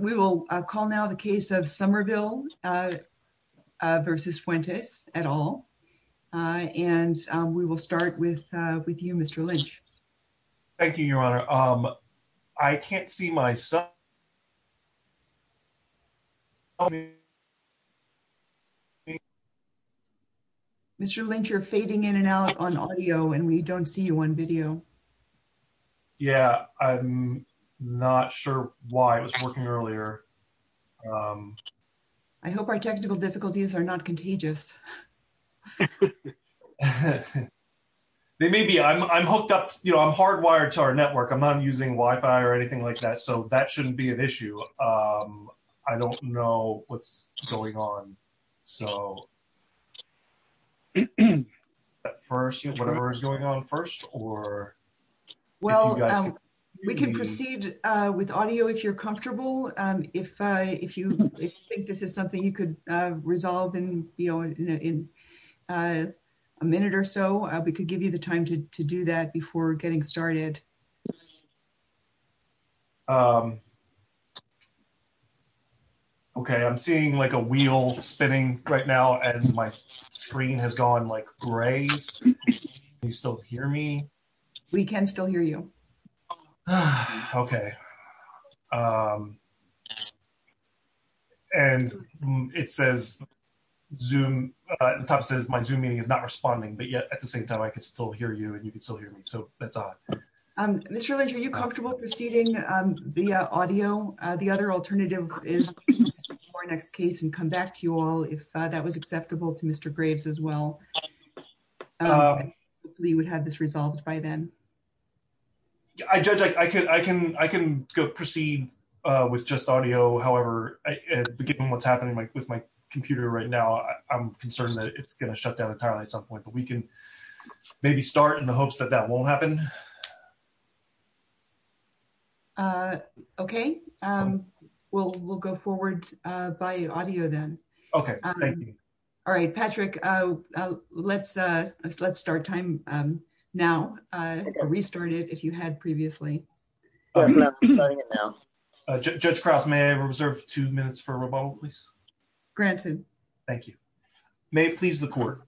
We will call now the case of Somerville v. Fuentes, et al., and we will start with you, Mr. Lynch. Thank you, Your Honor. I can't see my son. Mr. Lynch, you're fading in and out on audio, and we don't see you on video. Yeah. I'm not sure why it was working earlier. I hope our technical difficulties are not contagious. They may be. I'm hooked up, you know, I'm hardwired to our network. I'm not using Wi-Fi or anything like that, so that shouldn't be an issue. I don't know what's going on. So, first, whatever is going on first, or... Well, we can proceed with audio if you're comfortable. If you think this is something you could resolve in a minute or so, we could give you the time to do that before getting started. Okay. I'm seeing, like, a wheel spinning right now, and my screen has gone, like, gray. Can you still hear me? We can still hear you. Okay. And it says, my Zoom meeting is not responding, but yet, at the same time, I can still hear you, and you can still hear me. So, that's odd. Mr. Ledge, are you comfortable proceeding via audio? The other alternative is, in our next case, and come back to you all, if that was acceptable to Mr. Graves as well, we would have this resolved by then. I can proceed with just audio. However, given what's happening with my computer right now, I'm concerned that it's going to Okay. We'll go forward by audio then. Okay. Thank you. All right, Patrick, let's start time now. Restart it if you had previously. Judge Krause, may I reserve two minutes for rebuttal, please? Granted. Thank you. May it please the court.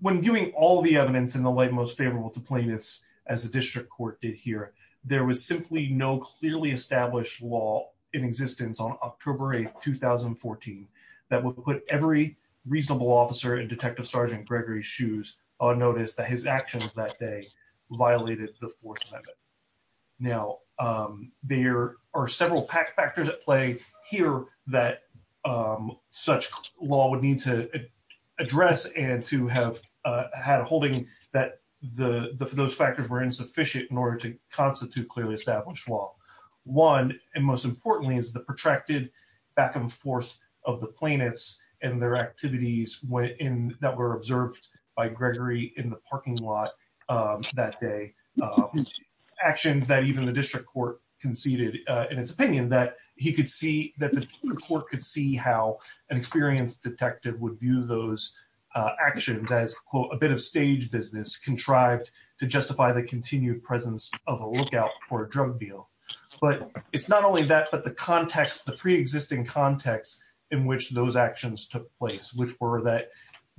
When viewing all the evidence in the light most favorable to plaintiffs, as the district court did here, there was simply no clearly established law in existence on October 8, 2014, that would put every reasonable officer in Detective Sergeant Gregory's shoes on notice that his actions that day violated the Fourth Amendment. Now, there are several factors at play here that such law would need to address and to have had a holding that those factors were insufficient in order to constitute clearly established law. One, and most importantly, is the protracted back and forth of the plaintiffs and their actions that even the district court conceded in its opinion that he could see, that the court could see how an experienced detective would view those actions as, quote, a bit of stage business contrived to justify the continued presence of a lookout for a drug deal. But it's not only that, but the context, the preexisting context in which those actions took place, which were that,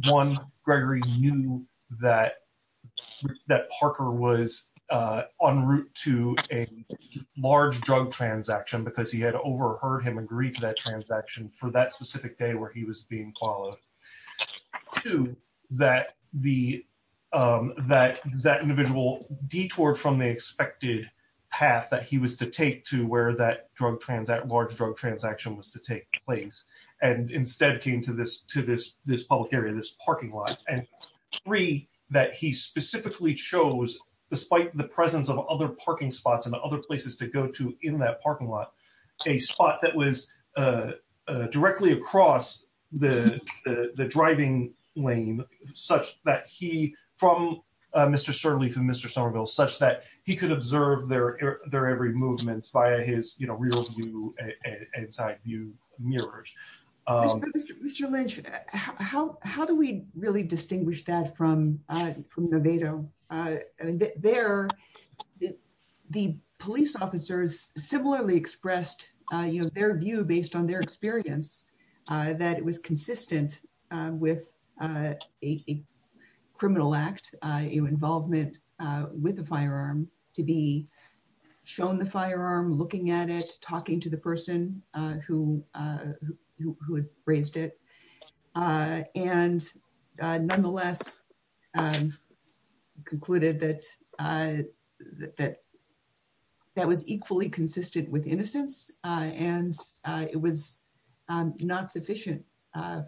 one, Gregory knew that Parker was en route to a large drug transaction because he had overheard him agree to that transaction for that specific day where he was being followed. Two, that that individual detoured from the expected path that he was to take to where that large drug transaction was to take place and instead came to this public area, this parking lot. And three, that he specifically chose, despite the presence of other parking spots and other places to go to in that parking lot, a spot that was directly across the driving lane such that he, from Mr. Surly to Mr. Somerville, such that he could observe their every movement via his rear view and side view mirrors. Mr. Lynch, how do we really distinguish that from the VEDA? There, the police officers similarly expressed, you know, their view based on their experience that it was consistent with a criminal act, involvement with a firearm to be shown the firearm, looking at it, talking to the person who had raised it, and nonetheless concluded that that was equally consistent with innocence and it was not sufficient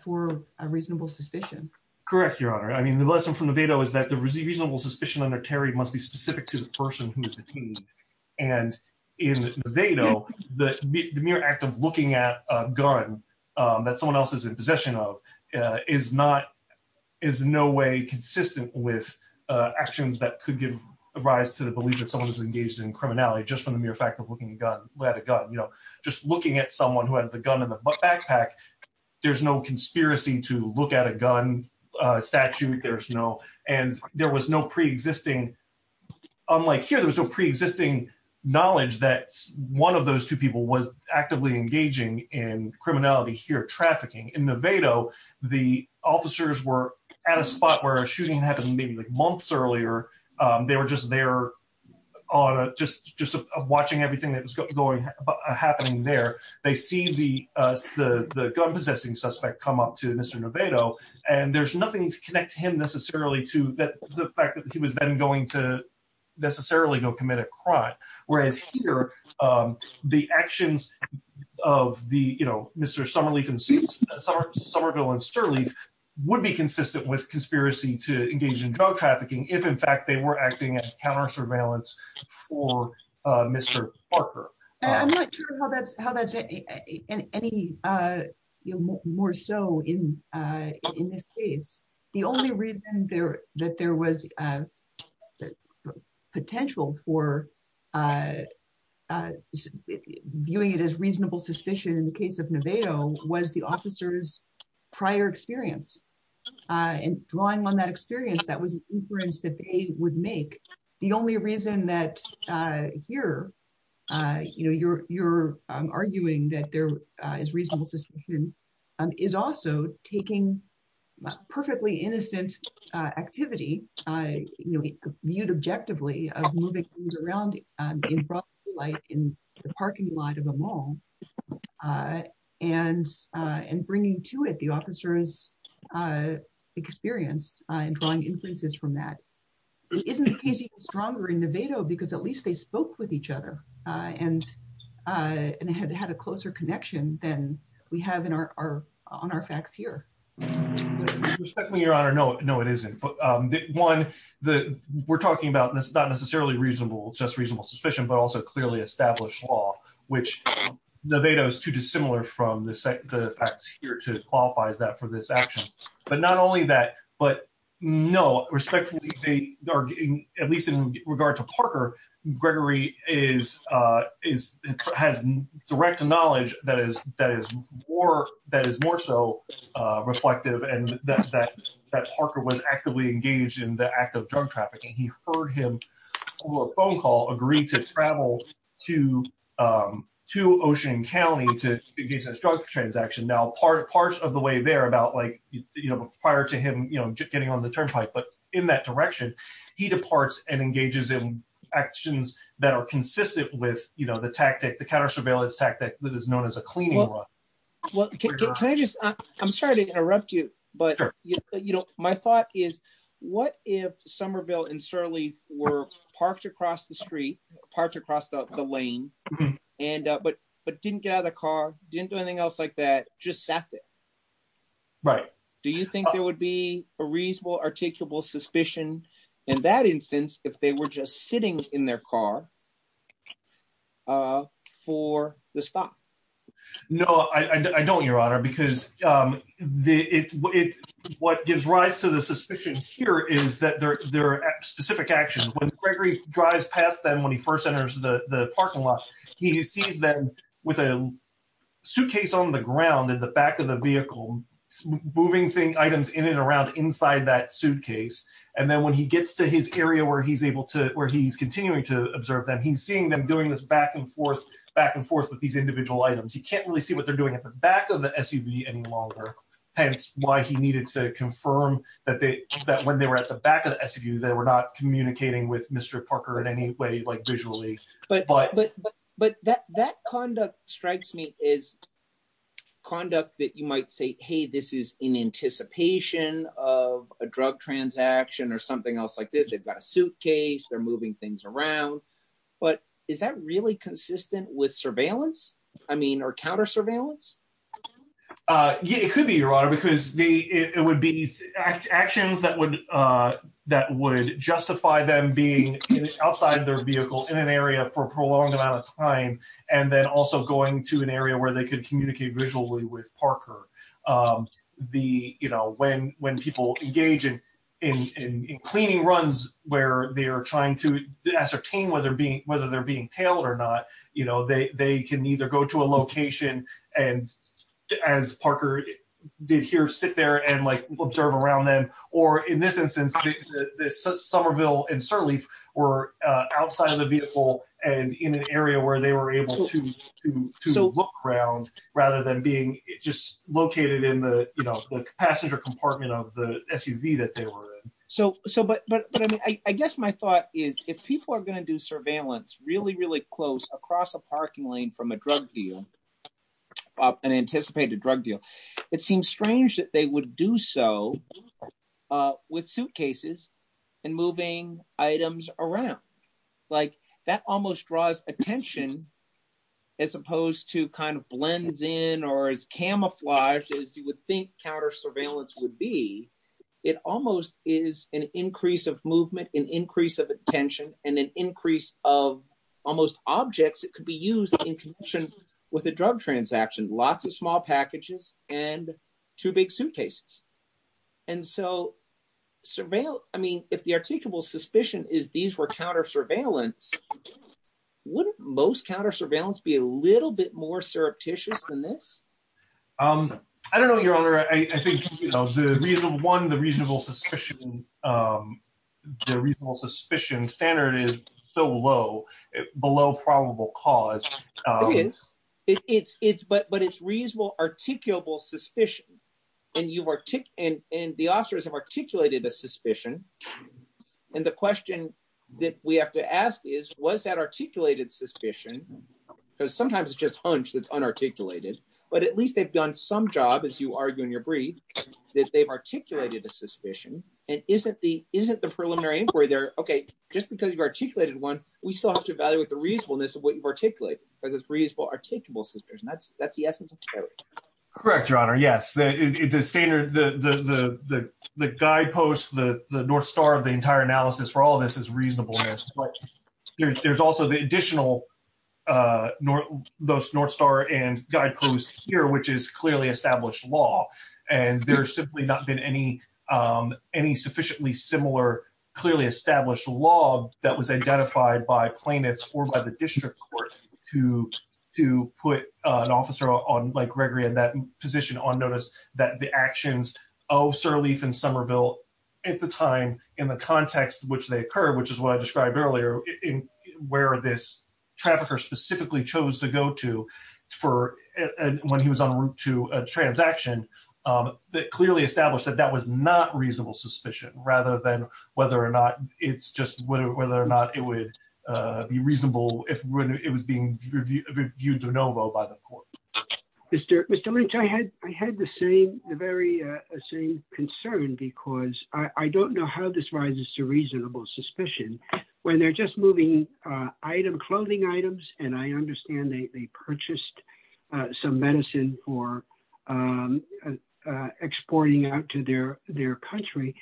for a reasonable suspicion. Correct, Your Honor. I mean, the lesson from the VEDA was that the reasonable suspicion under Terry must be specific to the person who was detained. And in the VEDA, the mere act of looking at a gun that someone else is in possession of is not, is in no way consistent with actions that could give rise to the belief that someone was engaged in criminality just from the mere fact of looking at a gun. Just looking at someone who had the gun in the backpack, there's no conspiracy to look at a gun statute. And there was no pre-existing, unlike here, there was no pre-existing knowledge that one of those two people was actively engaging in criminality here, trafficking. In the VEDA, the officers were at a spot where a shooting happened maybe months earlier. They were just there on a, just watching everything that was going, happening there. They see the gun-possessing suspect come up to Mr. Noveto and there's nothing to connect him necessarily to the fact that he was then going to necessarily go commit a crime. Whereas here, the actions of the, you know, Mr. Somerville and Sterling would be consistent with conspiracy to engage in drug trafficking if in fact they were acting as counter-surveillance for Mr. Parker. I'm not sure how that's any more so in this case. The only reason that there was potential for viewing it as reasonable suspicion in the case of Noveto was the officer's prior experience. And drawing on that experience, that was an inference that they would make. The only reason that here, you know, you're arguing that there is reasonable suspicion is also taking perfectly innocent activity, viewed objectively, of moving things around in broad daylight in the parking lot of a mall and bringing to it the officer's experience and drawing inferences from that. It isn't the case even stronger in Noveto because at least they spoke with each other and had a closer connection than we have on our facts here. Respectfully, Your Honor, no, it isn't. One, we're talking about not necessarily reasonable, just reasonable suspicion, but also clearly established law, which Noveto is too dissimilar from the facts here to qualify that for this action. But not only that, but no, respectfully, at least in regard to Parker, Gregory has direct knowledge that is more so reflective and that Parker was actively engaged in the act of drug trafficking. He heard him over a phone call agree to travel to Ocean County to engage in a drug transaction. Now, part of the way there about like, you know, prior to him, you know, just getting on the turnpike, but in that direction, he departs and engages in actions that are consistent with, you know, the tactic, the counter surveillance tactic that is known as a cleaning law. Can I just, I'm sorry to interrupt you, but, you know, my thought is what if Somerville and Surly were parked across the street, parked across the lane, but didn't get out of their car, didn't do anything else like that, just sat there. Right. Do you think there would be a reasonable articulable suspicion in that instance, if they were just sitting in their car for the spot? No, I don't, Your Honor, because what gives rise to the suspicion here is that there are specific actions. When Gregory drives past them when he first enters the parking lot, he sees them with a suitcase on the ground in the back of the vehicle, moving things, items in and around inside that suitcase. And then when he gets to his area where he's able to, where he's continuing to observe them, he's seeing them doing this back and forth, back and forth with these individual items. He can't really see what they're doing at the back of the SUV any longer. Hence why he needed to confirm that when they were at the back of the SUV, they were not communicating with Mr. Parker in any way, like visually. But that conduct strikes me as conduct that you might say, hey, this is in anticipation of a drug transaction or something else like this. They've got a suitcase, they're moving things around. But is that really consistent with surveillance? I mean, or counter surveillance? Yeah, it could be, Your Honor, because it would be actions that would justify them being outside their vehicle in an area for a prolonged amount of time, and then also going to an area where they could communicate visually with Parker. When people engage in cleaning runs where they are trying to ascertain whether they're being tailed or not, they can either go to a location and, as Parker did here, sit there and observe around them. Or in this instance, Somerville and Sirleaf were outside of the vehicle and in an area where they were able to look around rather than being just located in the passenger compartment of the SUV that they were in. But I guess my thought is if people are going to do surveillance really, really close across a parking lane from a drug deal, an anticipated drug deal, it seems strange that they would do so with suitcases and moving items around. Like, that almost draws attention as opposed to kind of blends in or is camouflaged as you would think counter surveillance would be. It almost is an increase of movement, an increase of attention, and an increase of almost objects that could be used in conjunction with a drug transaction. Lots of small packages and two big suitcases. And so surveillance, I mean, if the articulable suspicion is these were counter surveillance, wouldn't most counter surveillance be a little bit more surreptitious than this? I don't know, Your Honor. I think, one, the reasonable suspicion standard is so low, below probable cause. It is. But it's reasonable articulable suspicion. And the officers have articulated the suspicion. And the question that we have to ask is, was that articulated suspicion? Because sometimes it's just hunch that's unarticulated. But at least they've done some job, as you argue in your brief, that they've articulated the suspicion. And isn't the preliminary inquiry there, OK, just because you've articulated one, we still have to evaluate the reasonableness of what you've articulated. Because it's reasonable articulable suspicion. That's the essence of surveillance. Correct, Your Honor. Yes. The standard, the guidepost, the north star of the entire analysis for all of this is reasonableness. There's also the additional, those north star and guideposts here, which is clearly established law. And there's simply not been any sufficiently similar, clearly established law that was identified by plaintiffs or by the district court to put an officer like Gregory in that position on notice that the actions of Sirleaf and Somerville at the time, in the context to which they occurred, which is what I described earlier, where this trafficker specifically chose to go to when he was en route to a transaction, that clearly established that that was not reasonable suspicion, rather than whether or not it's just whether or not it would be reasonable if it was being viewed de novo by the court. Mr. Lynch, I had the same, the very same concern. I don't know how this rises to reasonable suspicion. When they're just moving clothing items, and I understand they purchased some medicine for exporting out to their country,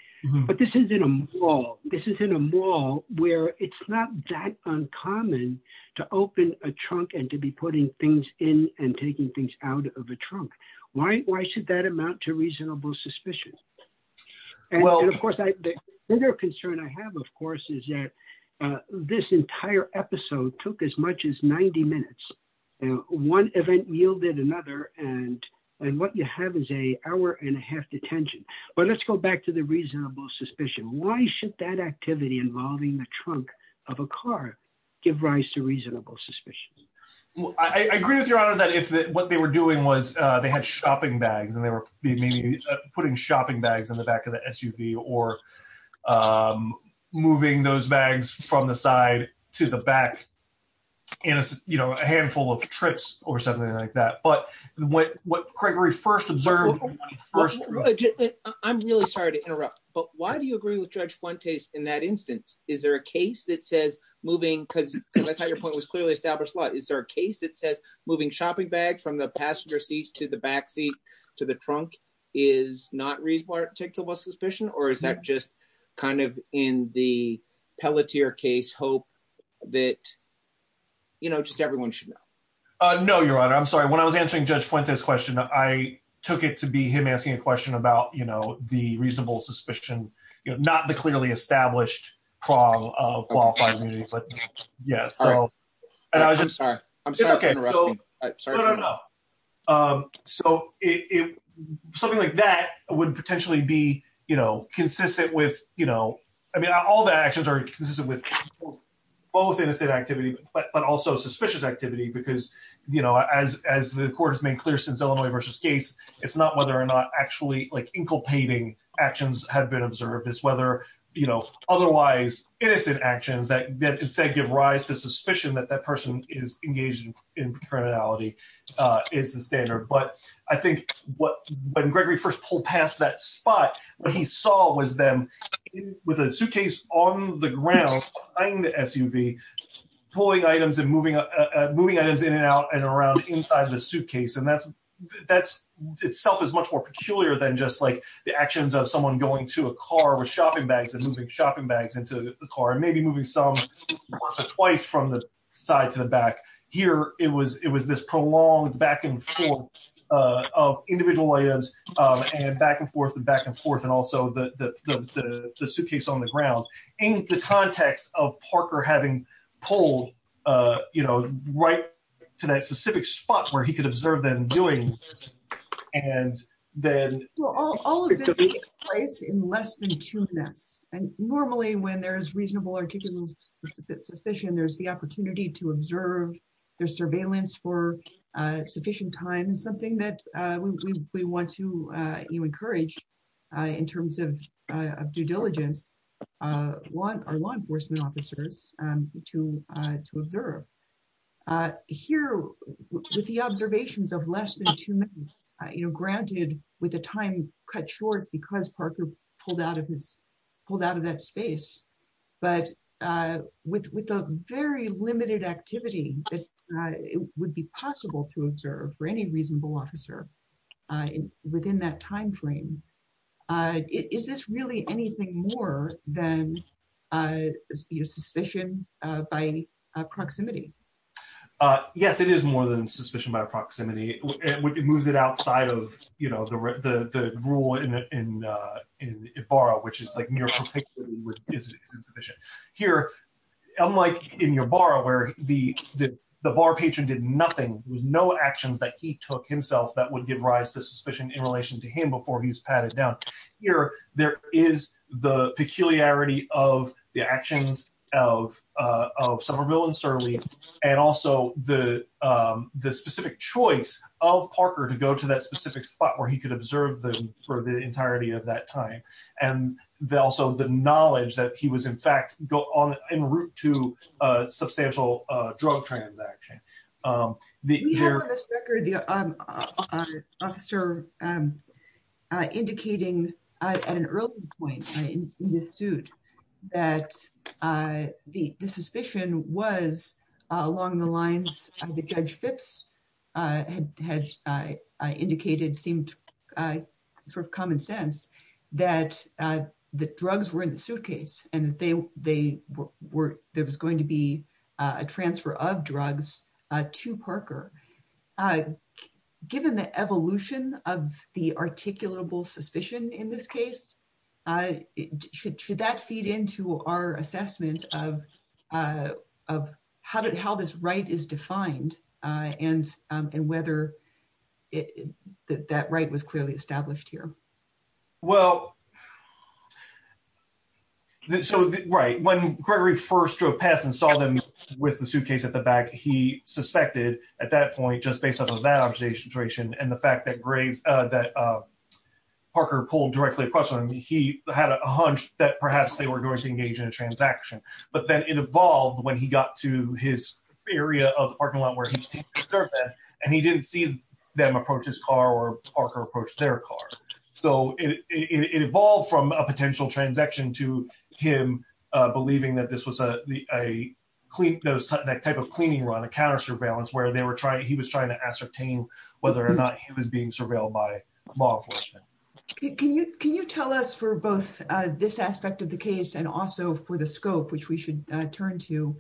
but this is in a mall. This is in a mall where it's not that uncommon to open a trunk and to be putting things in and taking things out of a trunk. Why should that amount to reasonable suspicion? And, of course, the other concern I have, of course, is that this entire episode took as much as 90 minutes. One event yielded another, and what you have is an hour and a half detention. But let's go back to the reasonable suspicion. Why should that activity involving the trunk of a car give rise to reasonable suspicion? I agree with your honor that if what they were doing was they had shopping bags and they were putting shopping bags in the back of the SUV or moving those bags from the side to the back in a handful of trips or something like that. But what Gregory first observed... I'm really sorry to interrupt, but why do you agree with Judge Fuentes in that instance? Is there a case that says moving... Because I thought your point was clearly established a lot. Is there a case that says moving shopping bags from the passenger seats to the back seat to the trunk is not reasonable suspicion? Or is that just kind of in the Pelletier case hope that just everyone should know? No, your honor. I'm sorry. When I was answering Judge Fuentes' question, I took it to be him asking a question about the reasonable suspicion, not the clearly established prong of qualified immunity. I'm sorry. I'm sorry to interrupt you. No, no, no. So something like that would potentially be consistent with... I mean, all the actions are consistent with both innocent activity but also suspicious activity because as the court has made clear since Illinois v. Gates, it's not whether or not actually inculpating actions have been observed. It's whether otherwise innocent actions that instead give rise to suspicion that that person is engaged in criminality is the standard. But I think when Gregory first pulled past that spot, what he saw was them with a suitcase on the ground behind the SUV pulling items and moving items in and out and around inside of the suitcase. And that itself is much more peculiar than just like the actions of someone going to a car with shopping bags and moving shopping bags into the car and maybe moving some twice from the side to the back. Here, it was this prolonged back and forth of individual items and back and forth and back and forth and also the suitcase on the ground. So in the context of Parker having pulled right to that specific spot where he could observe them doing this and then... Well, all of this takes place in less than two minutes. And normally, when there's reasonable or sufficient suspicion, there's the opportunity to observe their surveillance for sufficient time and something that we want to encourage in terms of due diligence our law enforcement officers to observe. Here, with the observations of less than two minutes, granted with the time cut short because Parker pulled out of that space, but with a very limited activity, it would be possible to observe for any reasonable officer within that time frame. Is this really anything more than suspicion by proximity? Yes, it is more than suspicion by proximity. It moves it outside of the rule in Ibarra, which is like... Here, unlike in Ibarra where the bar patron did nothing, there was no action that he took himself that would give rise to suspicion in relation to him before he was patted down. Here, there is the peculiarity of the actions of Somerville and Surly and also the specific choice of Parker to go to that specific spot where he could observe them for the entirety of that time. Also, the knowledge that he was, in fact, en route to a substantial drug transaction. We have on this record the officer indicating at an early point in the suit that the suspicion was along the lines that Judge Phipps had indicated seemed common sense that the drugs were in the suitcase and there was going to be a transfer of drugs to Parker. Given the evolution of the articulable suspicion in this case, should that feed into our assessment of how this right is defined and whether that right was clearly established here? Well, so, right. When Gregory first drove past and saw them with the suitcase at the back, he suspected at that point, just based on that observation and the fact that Parker pulled directly across from him, he had a hunch that perhaps they were going to engage in a transaction. But then it evolved when he got to his area of the parking lot where he was taking a survey and he didn't see them approach his car or Parker approach their car. So, it evolved from a potential transaction to him believing that this was a type of cleaning run, a counter surveillance where he was trying to ascertain whether or not he was being surveilled by law enforcement. Can you tell us for both this aspect of the case and also for the scope, which we should turn to,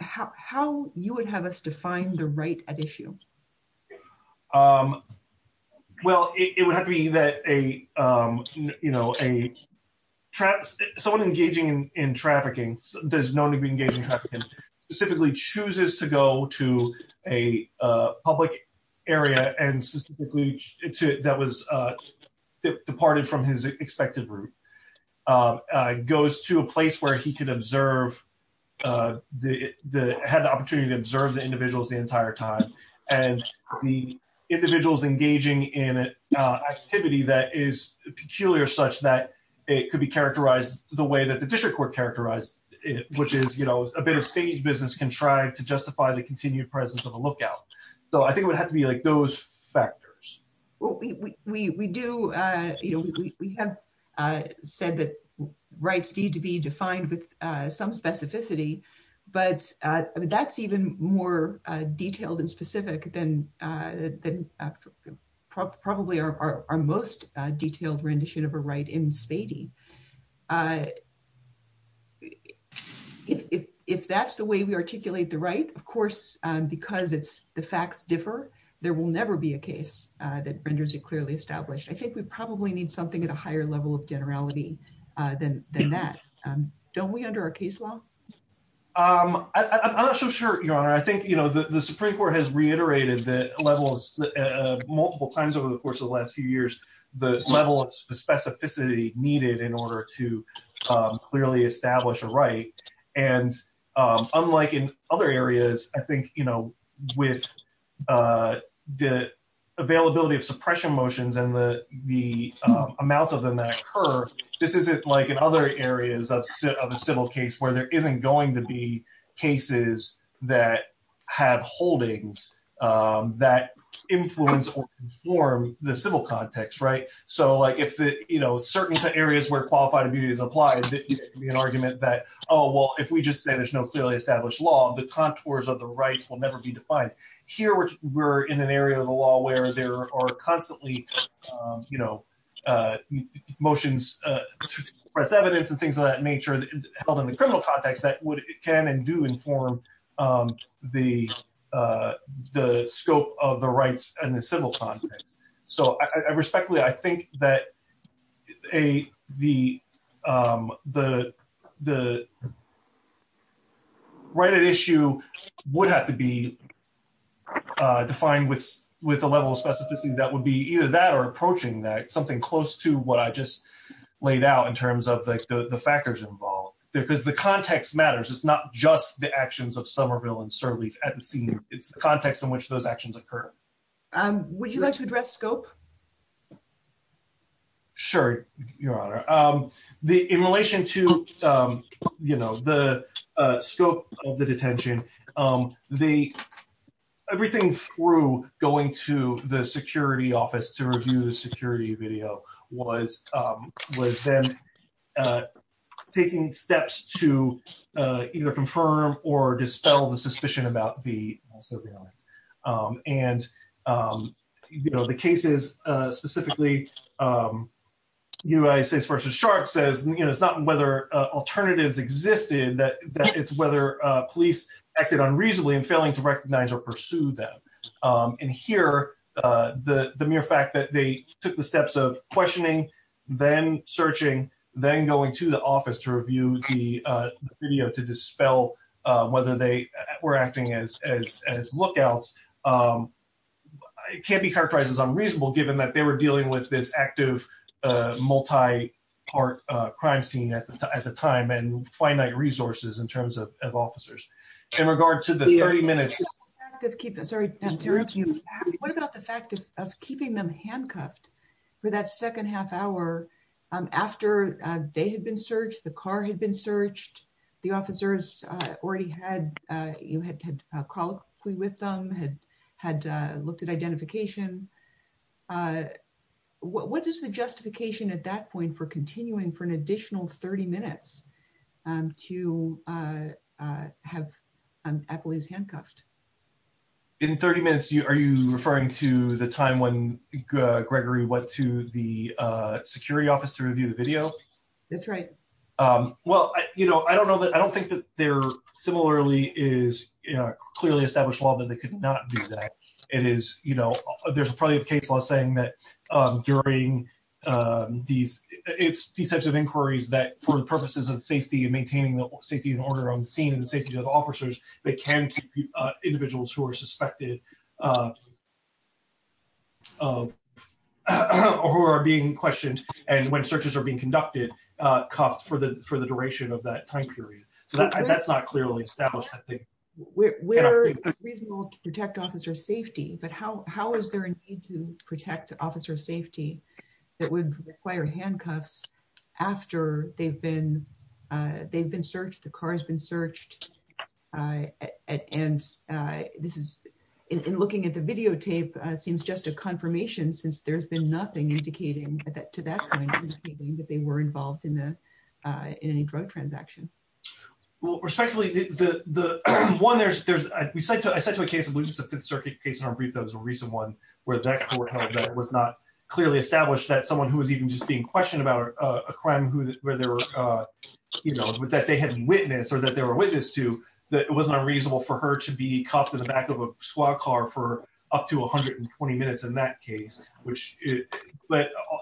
how you would have us define the right at issue? Well, it would have to be that a, you know, someone engaging in trafficking, there's no So, I think it would have to be like those factors. Well, we do, you know, we have said that rights need to be defined with some specificity, but that's even more detailed and specific than probably our most detailed rendition of a right in Spady. If that's the way we articulate the right, of course, because it's the facts differ, there will never be a case that renders it clearly established. I think we probably need something at a higher level of generality than that. Don't we under our case law? I'm not so sure, Your Honor. I think, you know, the Supreme Court has reiterated the levels multiple times over the course of the last few years, the level of specificity needed in order to clearly establish a right. And unlike in other areas, I think, you know, with the availability of suppression motions and the amount of them that occur, this is just like in other areas of a civil case where there isn't going to be cases that have holdings that influence or inform the civil context. Right? So like if, you know, certain areas where qualified immediates apply, there can be an argument that, oh, well, if we just say there's no clearly established law, the contours of the rights will never be defined. Here, we're in an area of the law where there are constantly, you know, motions, press evidence and things of that nature held in the criminal context that can and do inform the scope of the rights and the civil context. So, respectfully, I think that the right at issue would have to be defined with the level of specificity that would be either that or approaching that, something close to what I just laid out in terms of the factors involved. Because the context matters. It's not just the actions of Somerville and Sirleaf at the scene. It's the context in which those actions occur. Would you like to address scope? Sure, Your Honor. In relation to, you know, the scope of the detention, everything through going to the security office to review the security video was then taking steps to either confirm or deny. And, you know, the case is specifically U.S.S. v. Sharpe says it's not whether alternatives existed, that it's whether police acted unreasonably and failing to recognize or pursue them. And here, the mere fact that they took the steps of questioning, then searching, then going to the office to review the video to dispel whether they were acting as lookouts can't be characterized as unreasonable given that they were dealing with this active multi-part crime scene at the time and finite resources in terms of officers. In regard to the 30-minute... What about the fact of keeping them handcuffed for that second half hour after they had been searched, the car had been searched, the officers already had, you know, had called with them, had looked at identification? What is the justification at that point for continuing for an additional 30 minutes to have employees handcuffed? In 30 minutes, are you referring to the time when Gregory went to the security office to review the video? That's right. Well, you know, I don't know that... I don't think that there similarly is clearly established law that they could not do that. It is, you know, there's probably a case law saying that during these types of inquiries that for the purposes of safety and maintaining the safety and order on the scene and the safety of the officers, they can keep individuals who are suspected or who are being questioned and when searches are being conducted, cuffed for the duration of that time period. So that's not clearly established, I think. We're reasonable to protect officer safety, but how is there a need to protect officer safety that would require handcuffs after they've been searched, the car has been searched, and this is... And looking at the videotape, it seems just a confirmation since there's been nothing indicating to that point that they were involved in any drug transaction. Well, respectfully, the... One, there's... I said to a case, I believe it was the Fifth Circuit case, and I'll read those, a recent one, where it was not clearly established that someone who was even just being questioned about a crime where they were, you know, that they had witnessed or that they were witness to, that it was not reasonable for her to be cuffed in the back of a SWAT car for up to 120 minutes in that case, which...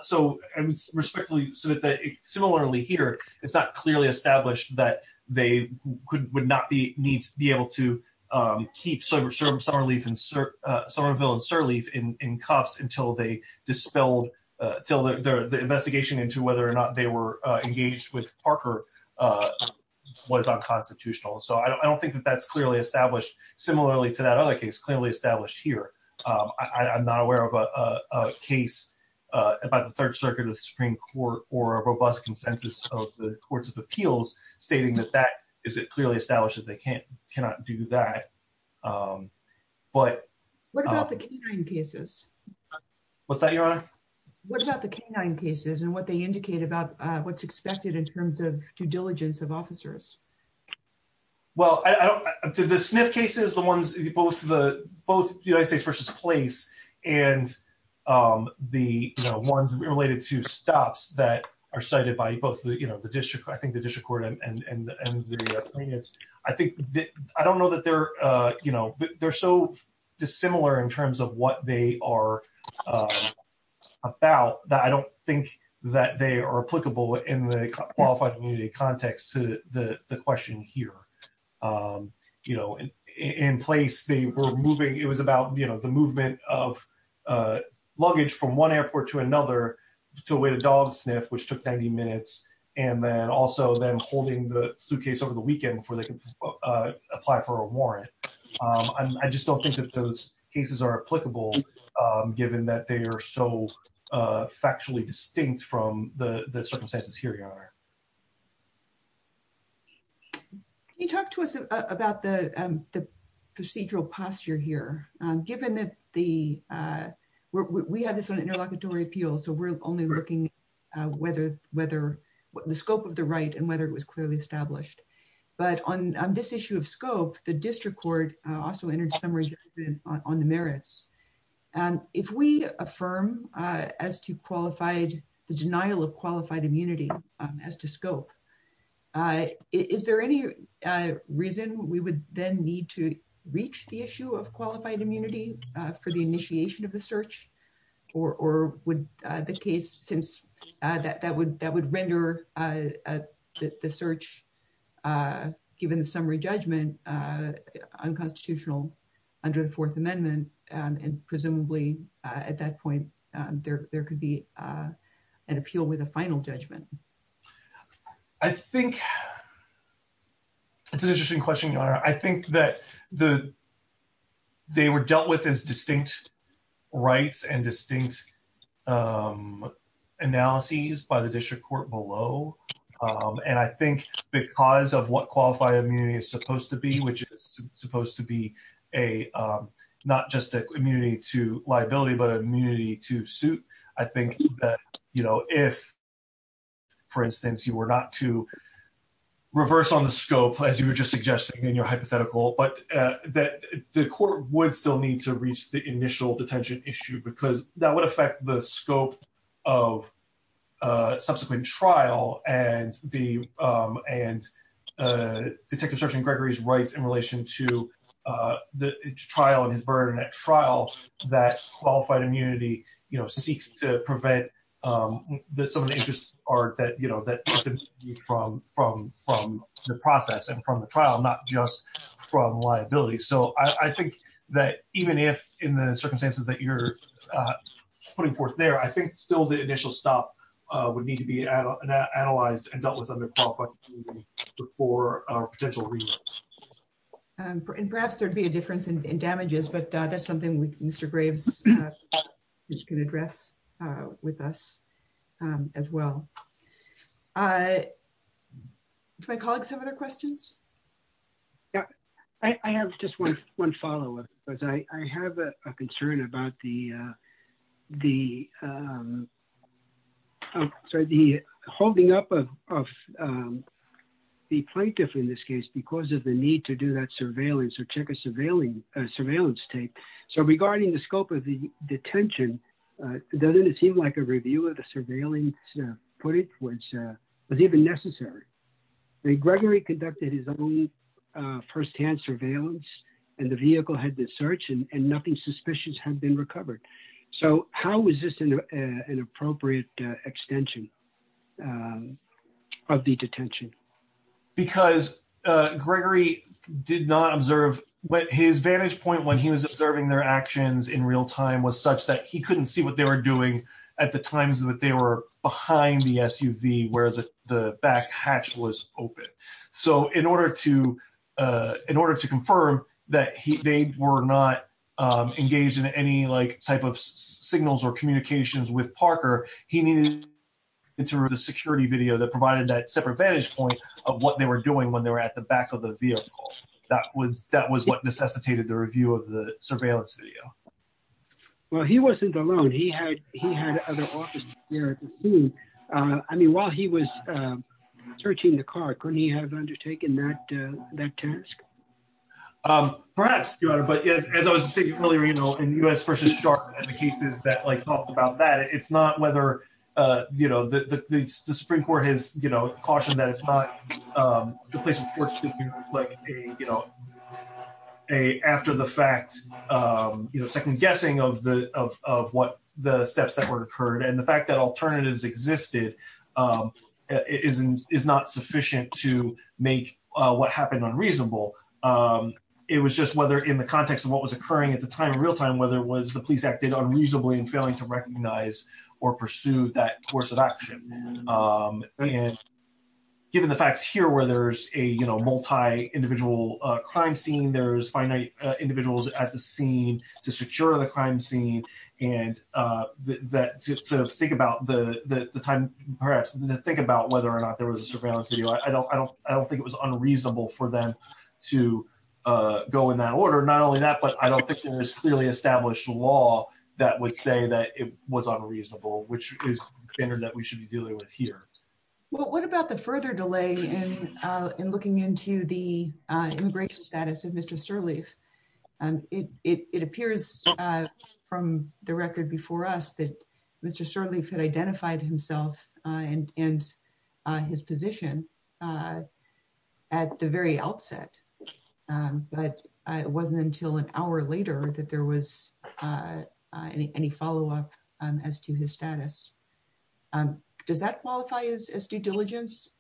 So, and respectfully, similarly here, it's not clearly established that they would not be able to keep Somerville and Sirleaf in cuffs until they dispelled, until the investigation into whether or not they were engaged with Parker was unconstitutional. So, I don't think that that's clearly established, similarly to that other case clearly established here. I'm not aware of a case about the Third Circuit of the Supreme Court or a robust consensus of the Courts of Appeals stating that that is clearly established that they cannot do that. But... What about the canine cases? What's that, Your Honor? What about the canine cases and what they indicate about what's expected in terms of due diligence of officers? Well, I don't... The Smith cases, the ones... Both United States v. Place and the ones related to stops that are cited by both the District... I think the District Court and the plaintiffs, I think... I don't know that they're... They're so dissimilar in terms of what they are about that I don't think that they are applicable in the qualified community context to the question here. In Place, they were moving... It was about the movement of luggage from one airport to another with a dog sniff, which took 90 minutes, and then also them holding the suitcase over the weekend before they could apply for a warrant. I just don't think that those cases are applicable, given that they are so factually distinct from the circumstances here, Your Honor. Can you talk to us about the procedural posture here, given that the... We have this on interlocutory appeal, so we're only looking at whether... The scope of the right and whether it was clearly established. But on this issue of scope, the District Court also entered some resistance on the merits. If we affirm as to qualified... The denial of qualified immunity as to scope, is there any reason we would then need to reach the issue of qualified immunity for the initiation of the search, or would the case... That would render the search, given the summary judgment, unconstitutional under the Fourth Amendment? And presumably, at that point, there could be an appeal with a final judgment. I think... That's an interesting question, Your Honor. I think that they were dealt with as distinct rights and distinct analyses by the District Court below. And I think because of what qualified immunity is supposed to be, which is supposed to be a... Not just an immunity to liability, but an immunity to suit, I think that if, for instance, you were not to reverse on the scope, as you were just suggesting in your hypothetical, but that the court would still need to reach the initial detention issue, because that would affect the scope of subsequent trial and Detective Sergeant Gregory's rights in relation to the trial and his burden at trial, that qualified immunity seeks to prevent some of the interests that... From the process and from the trial, not just from liability. So I think that even if, in the circumstances that you're putting forth there, I think still the initial stop would need to be analyzed and dealt with under qualified immunity for potential reasons. And perhaps there'd be a difference in damages, but that's something Mr. Graves can address with us as well. Do my colleagues have other questions? Yeah. I have just one follow up. I have a concern about the holding up of the plaintiff in this case because of the need to do that surveillance or check a surveillance tape. So regarding the scope of the detention, doesn't it seem like a review of the surveillance footage was even necessary? Gregory conducted his own firsthand surveillance and the vehicle had been searched and nothing suspicious had been recovered. So how is this an appropriate extension of the detention? Because Gregory did not observe... His vantage point when he was observing their actions in real time was such that he couldn't see what they were doing at the times that they were behind the SUV, whereas the back hatch was open. So in order to confirm that they were not engaged in any type of signals or communications with Parker, he needed a security video that provided that separate vantage point of what they were doing when they were at the back of the vehicle. That was what necessitated the review of the surveillance video. Well, he wasn't alone. He had other officers there at the scene. I mean, while he was searching the car, couldn't he have undertaken that task? Perhaps, Your Honor. But as I was saying earlier, you know, in U.S. v. Charlotte and the cases that talked about that, it's not whether the Supreme Court has a second guessing of what the steps that were occurred. And the fact that alternatives existed is not sufficient to make what happened unreasonable. It was just whether in the context of what was occurring at the time in real time, whether it was the police acted unreasonably in failing to recognize or pursue that course of action. And given the fact here where there's a, you know, multi-individual crime scene, there's finite individuals at the scene to secure the crime scene. And just to think about the time, perhaps, to think about whether or not there was a surveillance video, I don't think it was unreasonable for them to go in that order. Not only that, but I don't think there was clearly established law that would say that it was unreasonable, which is a standard that we should be dealing with here. Well, what about the further delay in looking into the immigration status of Mr. Sirleaf? It appears from the record before us that Mr. Sirleaf had identified himself and his position at the very outset. But it wasn't until an hour later that there was any follow-up as to his status. Does that qualify as due diligence?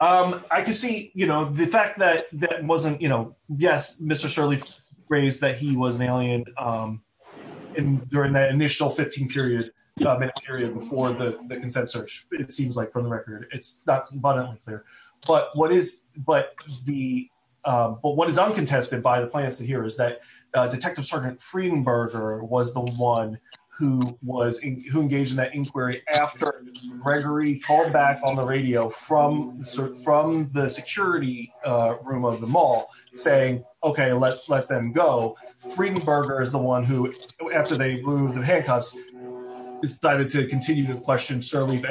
I can see, you know, the fact that that wasn't, you know, yes, Mr. Sirleaf raised that he was an alien during that initial 15-period period before the consent search, it seems like, from the record. It's not clear. But what is uncontested by the plaintiffs here is that Detective Sergeant Friedenberger was the one who engaged in that inquiry after Gregory called back on the radio from the security room of the mall saying, okay, let's let them go. Friedenberger is the one who, after they removed the handcuffs, decided to continue to question Sirleaf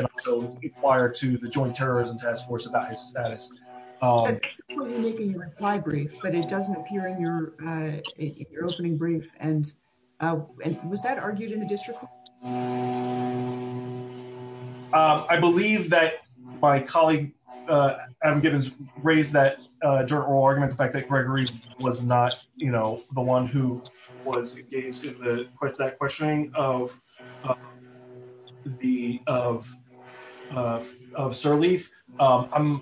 prior to the Joint Terrorism Task Force about his status. I can see that in your reply brief, but it doesn't appear in your opening brief. And was that argued in a district court? I believe that my colleague, Adam Gibbons, raised that during oral arguments, the fact that Gregory was not, you know, the one who was engaged in that questioning of Sirleaf. I'm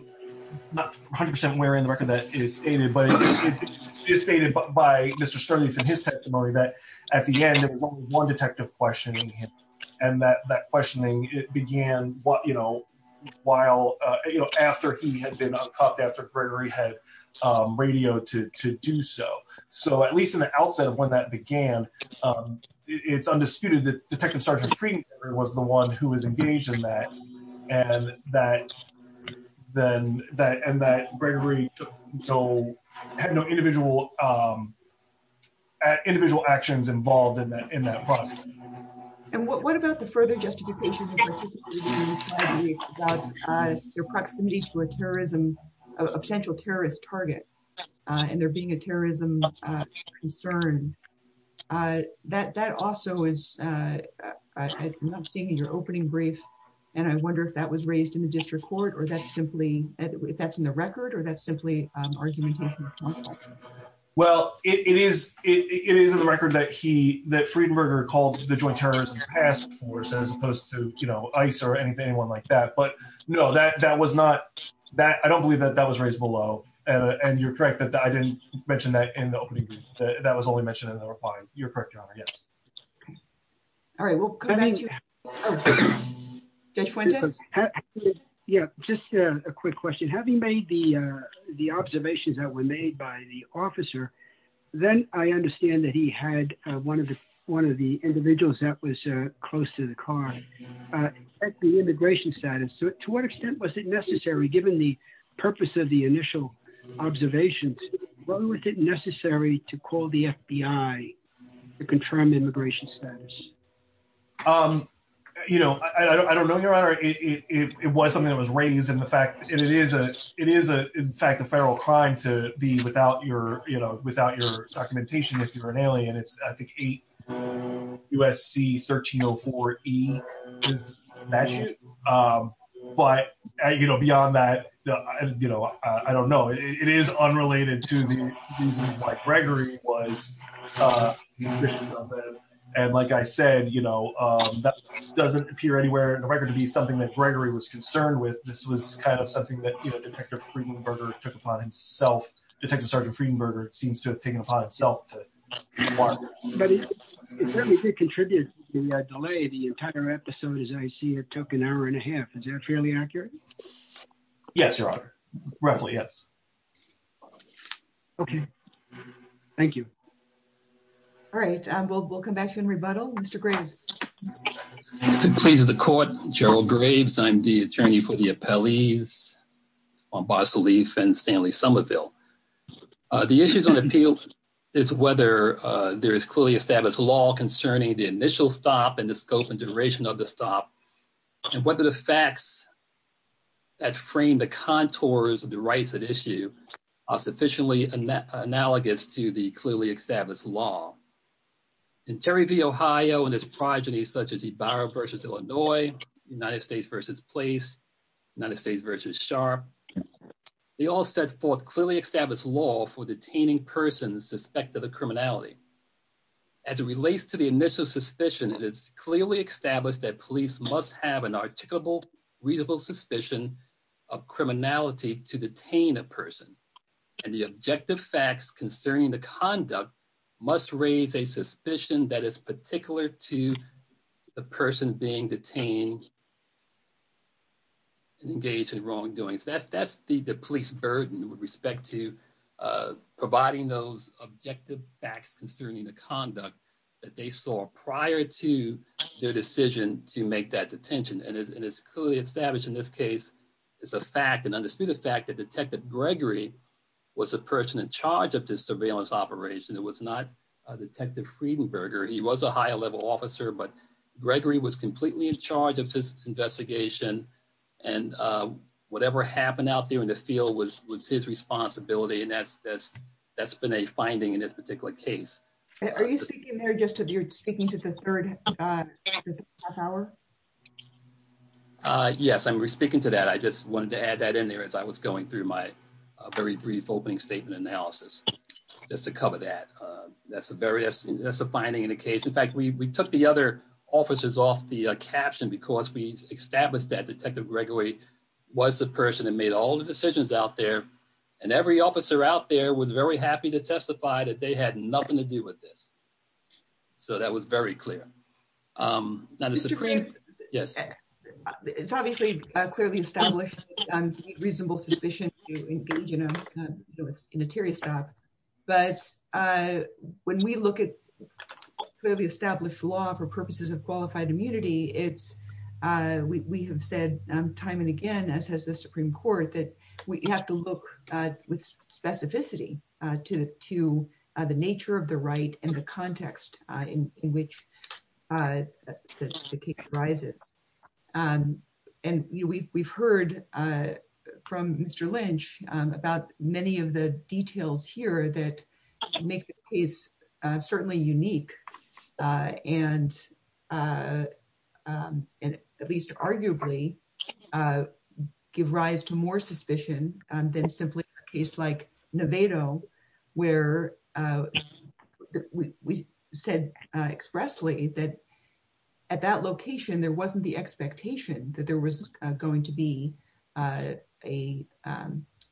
not 100% aware of the record that is stated, but it is stated by Mr. Sirleaf in his testimony that at the end, there was only one detective questioning him. And that questioning began, you know, after he had been caught after Gregory had radioed to do so. So at least in the outset of when that began, it's undisputed that Detective Sergeant Friedenberger was the one who was engaged in that, and that Gregory had no individual actions involved in that process. And what about the further justification for Sirleaf's testimony about their proximity to a terrorism, a potential terrorist target, and there being a terrorism concern? That also was, I'm not seeing in your opening brief, and I wonder if that was raised in the district court, or that's simply, if that's in the record, or that's simply argumentation from counsel? Well, it is in the record that he, that Friedenberger called the Joint Terrorism Task Force, as opposed to, you know, ICE or anything like that. But no, that was not, I don't believe that that was raised below. And you're correct that I didn't mention that in the opening brief. That was only mentioned in the reply. You're correct, Your Honor. Yes. All right. Well, can I... Judge Fuente? Yeah, just a quick question. Having made the observations that were made by the officer, then I understand that he had one of the individuals that was close to the car. At the immigration status, to what extent was it necessary, given the purpose of the call, to call the FBI to confirm immigration status? You know, I don't know, Your Honor. It was something that was raised in the fact that it is, in fact, a federal crime to be without your, you know, without your documentation, if you're an alien. It's, I think, 8 USC 1304E. That's it. But, you know, beyond that, you know, I don't know. It is unrelated to the reasons why Gregory was the officer. And, like I said, you know, that doesn't appear anywhere in the record to be something that Gregory was concerned with. This was kind of something that, you know, Detective Friedenberger took upon himself. Detective Sergeant Friedenberger seems to have taken upon himself. But it certainly did contribute to the delay. The entire episode, as I see it, took an hour and a half. Is that fairly accurate? Yes, Your Honor. Roughly, yes. Okay. Thank you. All right. We'll come back to you in rebuttal. Mr. Graves. Pleased to be in the court. Gerald Graves. I'm the attorney for the appellees on Bar Salif and Stanley Somerville. The issues on the appeal is whether there is clearly established law concerning the initial stop and the scope and duration of the stop and whether the facts that frame the contours of the rights at issue are sufficiently analogous to the clearly established law. In Terry v. Ohio and its progenies, such as the Byron v. Illinois, United States v. Police, United States v. Sharp, they all set forth clearly established law for detaining persons suspected of criminality. As it relates to the initial suspicions, it's clearly established that police must have an articulable, readable suspicion of criminality to detain a person. And the objective facts concerning the conduct must raise a suspicion that is particular to the person being detained and engaged in wrongdoings. That's the police burden with respect to providing those objective facts concerning the conduct that they saw prior to their decision to make that detention. And it's clearly established in this case, it's a fact and understood the fact that Detective Gregory was the person in charge of this surveillance operation. It was not Detective Friedenberger. He was a higher level officer, but Gregory was completely in charge of this investigation. And whatever happened out there in the field was his responsibility. And that's been a finding in this particular case. Are you speaking there just as you're speaking to the third half hour? Yes, I'm speaking to that. I just wanted to add that in there as I was going through my very brief opening statement analysis just to cover that. That's a finding in the case. In fact, we took the other officers off the caption because we established that Detective Gregory was the person that made all the decisions out there. And every officer out there was very happy to testify that they had nothing to do with this. So that was very clear. It's obviously clearly established reasonable suspicion to engage in an interior staff. But when we look at clearly established law for purposes of qualified immunity, we have said time and again, as has the Supreme Court, that we have to look with specificity to the nature of the right and the context in which the case arises. And we've heard from Mr. Lynch about many of the details here that make the case certainly unique and at least arguably give rise to more suspicion than simply a case like Nevado where we said expressly that at that location, there wasn't the expectation that there was going to be a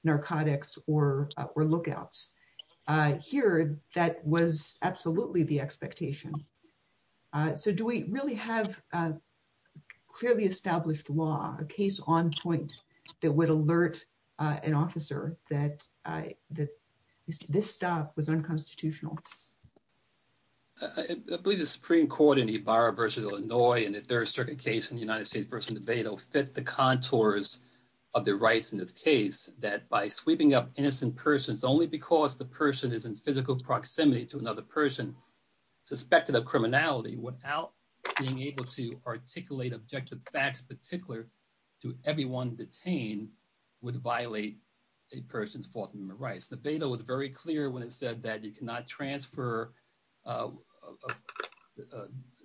narcotics or lookouts. Here, that was absolutely the expectation. So do we really have clearly established law, a case on point that would alert an officer that this staff was unconstitutional? I believe the Supreme Court in Ybarra versus Illinois and the jurisdiction case in the United States versus Nevada fit the contours of the rights in this case that by sweeping up innocent persons only because the person is in physical proximity to another person suspected of criminality without being able to articulate objective facts particular to everyone detained would violate a person's forthcoming rights. The data was very clear when it said that you cannot transfer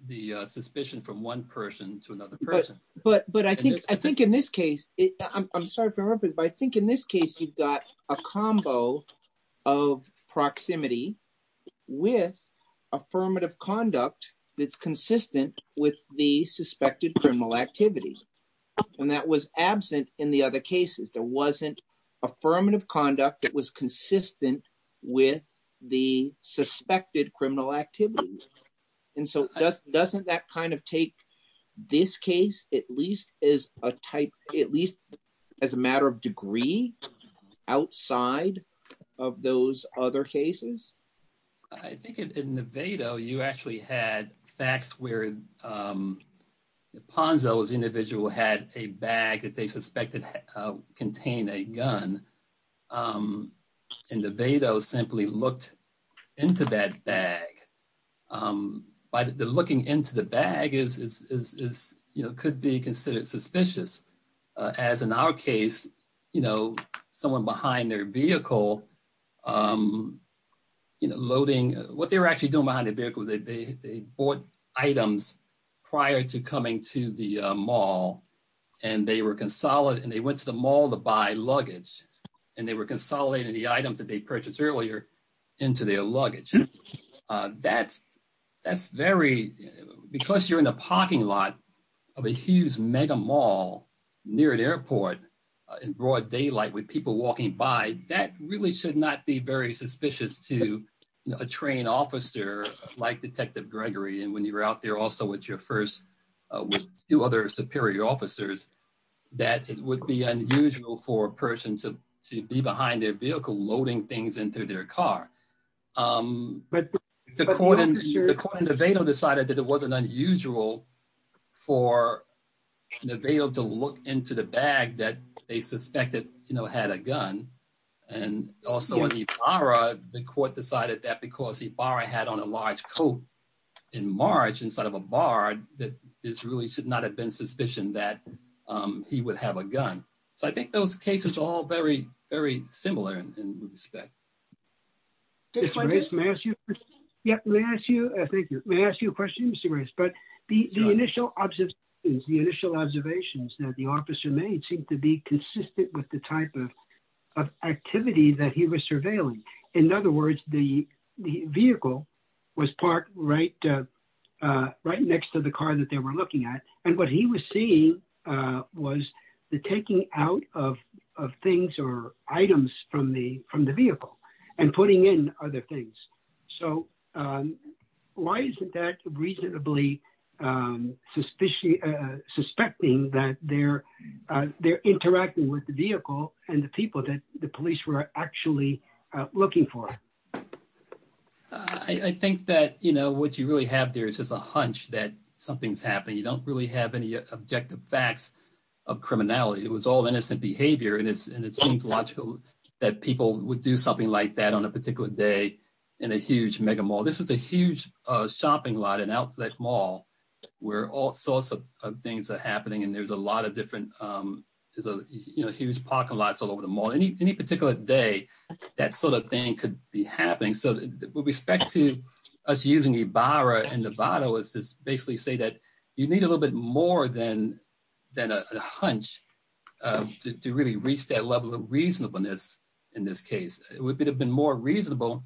the suspicion from one person to another person. But I think in this case, you've got a combo of proximity with affirmative conduct that's consistent with the suspected criminal activity. And that was absent in the other cases. There wasn't affirmative conduct that was consistent with the suspected criminal activity. And so doesn't that kind of take this case at least as a matter of degree outside of those other cases? I think in Nevada, you actually had facts where Ponzo's individual had a bag that they suspected contained a gun. And Nevada simply looked into that bag. But looking into the bag could be considered suspicious. As in our case, someone behind their vehicle loading, what they were actually doing behind their vehicle, they bought items prior to coming to the mall. And they went to the mall to buy luggage. And they were consolidating the items that they purchased earlier into their luggage. Because you're in the parking lot of a huge mega mall near an airport in broad daylight with people walking by, that really should not be very suspicious to a trained officer like Detective Gregory. And when you're out there also with your first two other superior officers, that it would be unusual for a person to be behind their vehicle loading things into their car. The court in Nevada decided that it wasn't unusual for Nevada to look into the bag that they suspected had a gun. And also in Ibarra, the court decided that because Ibarra had on a large coat in March instead of a bard, that there really should not have been suspicion that he would have a gun. So I think those cases are all very, very similar in respect. May I ask you a question, Mr. Reyes? The initial observations that the officer made seem to be consistent with the type of activity that he was surveilling. In other words, the vehicle was parked right next to the car that they were looking at. And what he was seeing was the taking out of things or items from the vehicle and putting in other things. So why isn't that reasonably suspecting that they're interacting with the vehicle and the police were actually looking for it? I think that, you know, what you really have there is just a hunch that something's happened. You don't really have any objective facts of criminality. It was all innocent behavior. And it seems logical that people would do something like that on a particular day in a huge mega mall. This is a huge shopping lot, an outlet mall, where all sorts of things are happening. And there's a lot of different, you know, huge parking lots all over the mall. Any particular day, that sort of thing could be happening. So with respect to us using Ibarra and Novato, it's to basically say that you need a little bit more than a hunch to really reach that level of reasonableness in this case. It would have been more reasonable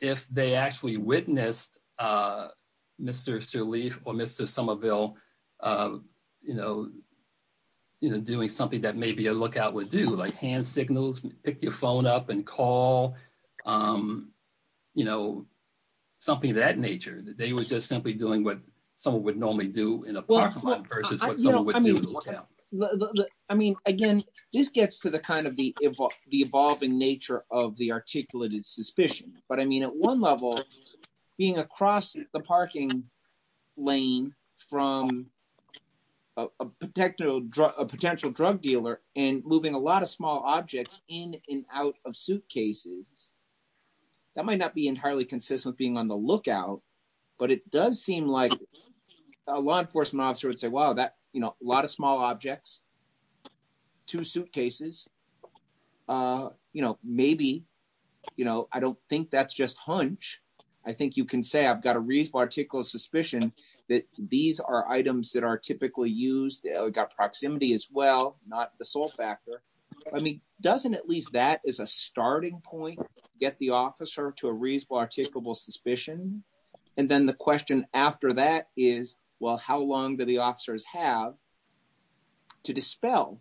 if they actually witnessed Mr. Sirleaf or Mr. Somerville, you know, doing something that maybe a lookout would do, like hand signals, pick your phone up and call, you know, something of that nature. That they were just simply doing what someone would normally do in a parking lot versus what someone would do in a lookout. I mean, again, this gets to the kind of the evolving nature of the articulated suspicion. But I mean, at one level, being across the parking lane from a potential drug dealer and moving a lot of small objects in and out of suitcases, that might not be entirely consistent with being on the lookout, but it does seem like a law enforcement officer would say, wow, that, you know, a lot of small objects, two suitcases, you know, maybe, you know, I don't think that's just hunch. I think you can say I've got a reasonable articulable suspicion that these are items that are typically used. We've got proximity as well, not the sole factor. I mean, doesn't at least that as a starting point get the officer to a reasonable articulable suspicion? And then the question after that is, well, how long do the officers have to dispel,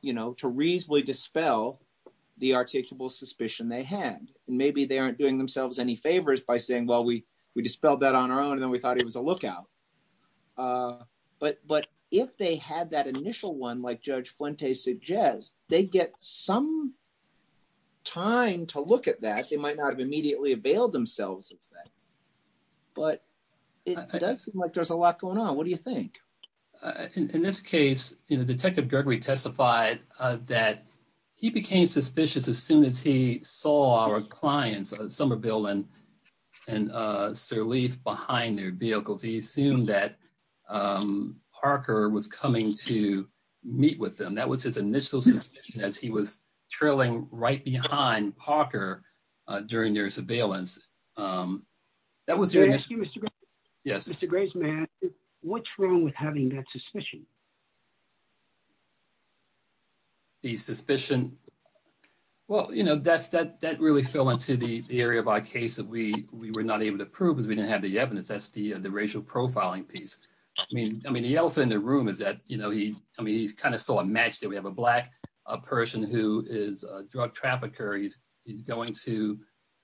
you know, to reasonably dispel the articulable suspicion they had? And maybe they aren't doing themselves any favors by saying, well, we dispelled that on our own and then we thought it was a lookout. But if they had that initial one, like Judge Fuente suggests, they'd get some time to look at that. They might not have immediately availed themselves of that. But it does seem like there's a lot going on. What do you think? In this case, you know, Detective Gregory testified that he became suspicious as soon as he saw our clients, Somerville and Sirleaf, behind their vehicles. He assumed that Parker was coming to meet with them. And that was his initial suspicion as he was trailing right behind Parker during their surveillance. Can I ask you, Mr. Gray's man, what's wrong with having that suspicion? The suspicion, well, you know, that really fell into the area of our case that we were not able to prove because we didn't have the evidence. That's the racial profiling piece. I mean, the elephant in the room is that, you know, he kind of saw a match there. We have a black person who is a drug trafficker. He's going to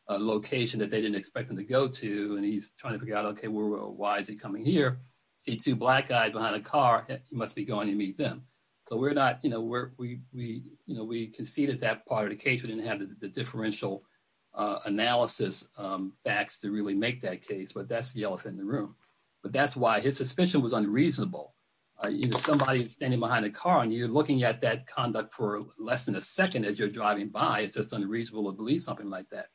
a location that they didn't expect him to go to and he's trying to figure out, okay, why is he coming here? These two black guys behind a car must be going to meet them. So we're not, you know, we conceded that part of the case. We didn't have the differential analysis facts to really make that case. But that's the elephant in the room. But that's why his suspicion was unreasonable. You have somebody standing behind a car and you're looking at that conduct for less than a second as you're driving by. It's just unreasonable to believe something like that.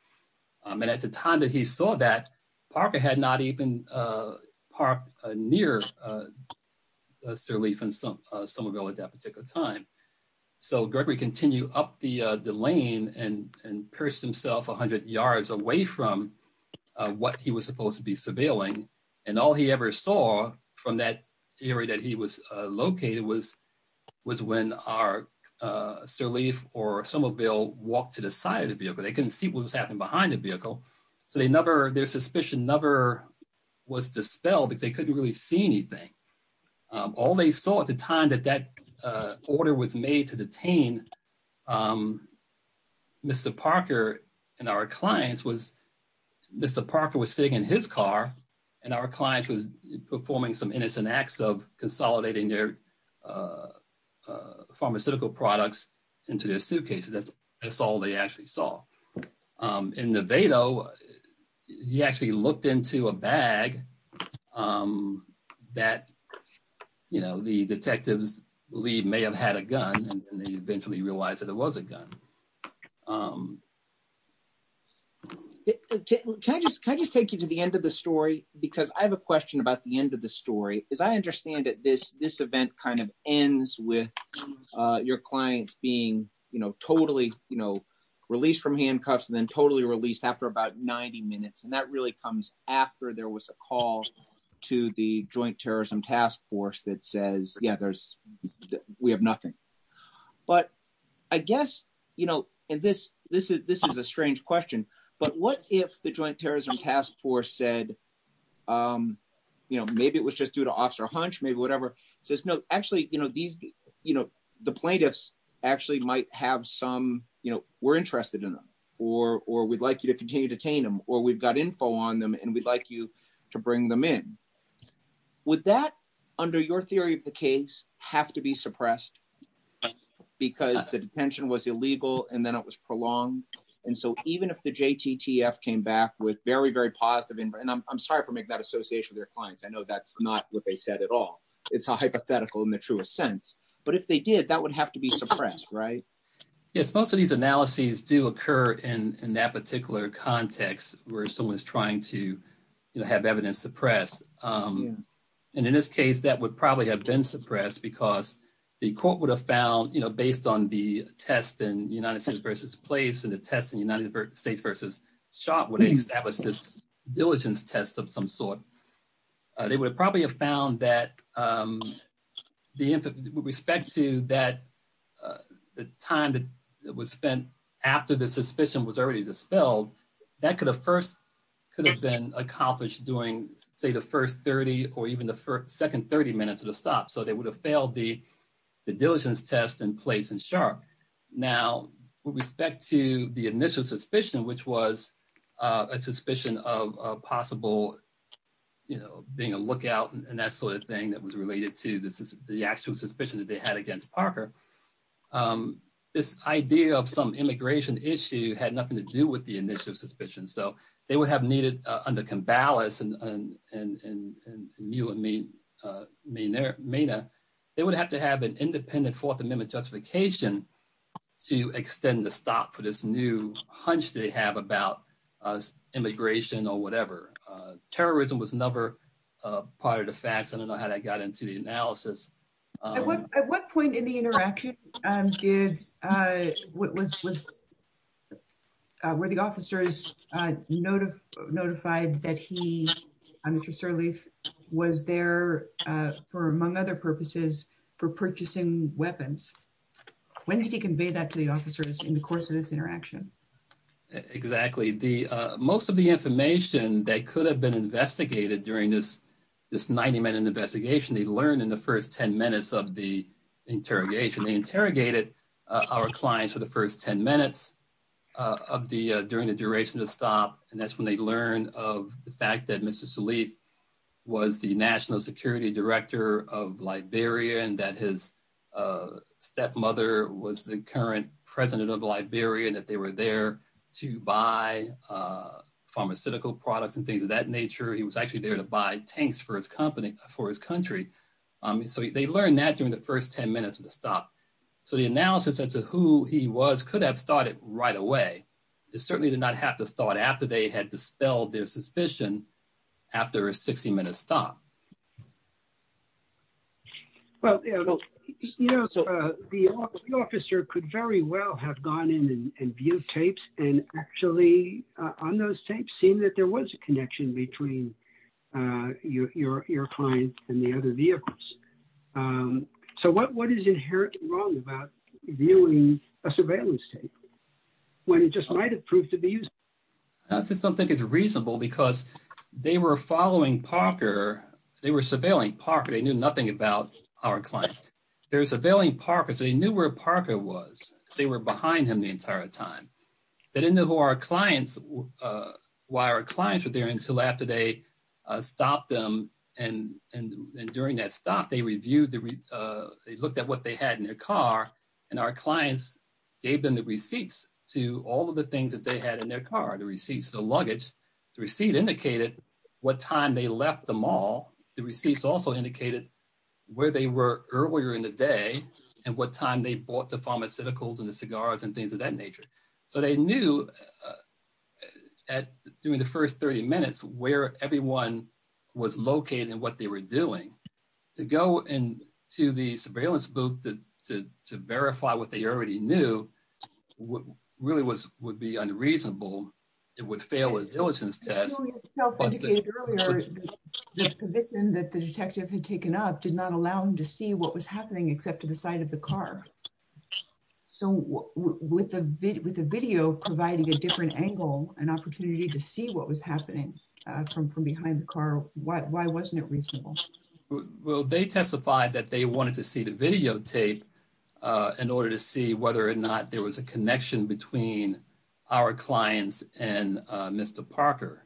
And at the time that he saw that, Parker had not even parked near Sir Leland Somerville at that particular time. So Gregory continued up the lane and perched himself 100 yards away from what he was supposed to be surveilling. And all he ever saw from that area that he was located was when Sir Leland Somerville walked to the side of the vehicle. They couldn't see what was happening behind the vehicle. So their suspicion never was dispelled. They couldn't really see anything. All they saw at the time that that order was made to detain Mr. Parker and our clients was Mr. Parker was sitting in his car and our client was performing some innocent acts of consolidating their pharmaceutical products into their suitcases. That's all they actually saw. In the Vado, he actually looked into a bag that the detectives believe may have had a gun and they eventually realized that it was a gun. Can I just take you to the end of the story? Because I have a question about the end of the story. Because I understand that this event kind of ends with your clients being totally released from handcuffs and then totally released after about 90 minutes. And that really comes after there was a call to the Joint Terrorism Task Force that says, yeah, we have nothing. But I guess, you know, and this is a strange question, but what if the Joint Terrorism Task Force said, you know, maybe it was just due to Officer Hunch, maybe whatever, says, no, actually, you know, the plaintiffs actually might have some, you know, we're interested in them or we'd like you to continue to detain them or we've got info on them and we'd like you to bring them in. Would that, under your theory of the case, have to be suppressed because the detention was illegal and then it was prolonged? And so even if the JTTF came back with very, very positive, and I'm sorry for making that association with your clients. I know that's not what they said at all. It's hypothetical in the truest sense. But if they did, that would have to be suppressed, right? If both of these analyses do occur in that particular context where someone is trying to, you know, have evidence suppressed. And in this case, that would probably have been suppressed because the court would have found, you know, based on the test in United States v. Place and the test in United States v. Schott would have established this diligence test of some sort. They would probably have found that with respect to that time that was spent after the was then accomplished during, say, the first 30 or even the second 30 minutes of the stop. So they would have failed the diligence test in Place and Schott. Now, with respect to the initial suspicion, which was a suspicion of possible, you know, being a lookout and that sort of thing that was related to the actual suspicion that they had against Parker, this idea of some immigration issue had nothing to do with the initial suspicion. So they would have needed under Kambalas and Mena, they would have to have an independent Fourth Amendment justification to extend the stop for this new hunch they have about immigration or whatever. Terrorism was never part of the facts. I don't know how that got into the analysis. At what point in the interaction did, were the officers notified that he, Mr. Sirleaf, was there for, among other purposes, for purchasing weapons? When did he convey that to the officers in the course of this interaction? Exactly. Most of the information that could have been investigated during this 90-minute investigation they learned in the first ten minutes of the interrogation. They interrogated our client for the first ten minutes of the, during the duration of the stop, and that's when they learned of the fact that Mr. Sirleaf was the national security director of Liberia and that his stepmother was the current president of Liberia and that they were there to buy pharmaceutical products and things of that nature. He was actually there to buy tanks for his company, for his country. So they learned that during the first ten minutes of the stop. So the analysis as to who he was could have started right away. It certainly did not have to start after they had dispelled their suspicion after a 60-minute stop. Well, the officer could very well have gone in and viewed tapes and actually on those vehicles. So what is inherently wrong about viewing a surveillance tape when it just might have proved to be useful? I don't think it's reasonable because they were following Parker. They were surveilling Parker. They knew nothing about our client. They were surveilling Parker, so they knew where Parker was. They were behind him the entire time. They didn't know why our clients were there until after they stopped them and during that stop, they reviewed, they looked at what they had in their car and our clients gave them the receipts to all of the things that they had in their car, the receipts, the luggage. The receipt indicated what time they left the mall. The receipts also indicated where they were earlier in the day and what time they bought the pharmaceuticals and the cigars and things of that nature. So they knew during the first 30 minutes where everyone was located and what they were doing. To go into the surveillance booth to verify what they already knew really would be unreasonable. It would fail a diligence test. Earlier, the position that the detective had taken up did not allow him to see what was happening except to the side of the car. So with the video providing a different angle, an opportunity to see what was happening from behind the car, why wasn't it reasonable? Well, they testified that they wanted to see the videotape in order to see whether or not there was a connection between our clients and Mr. Parker.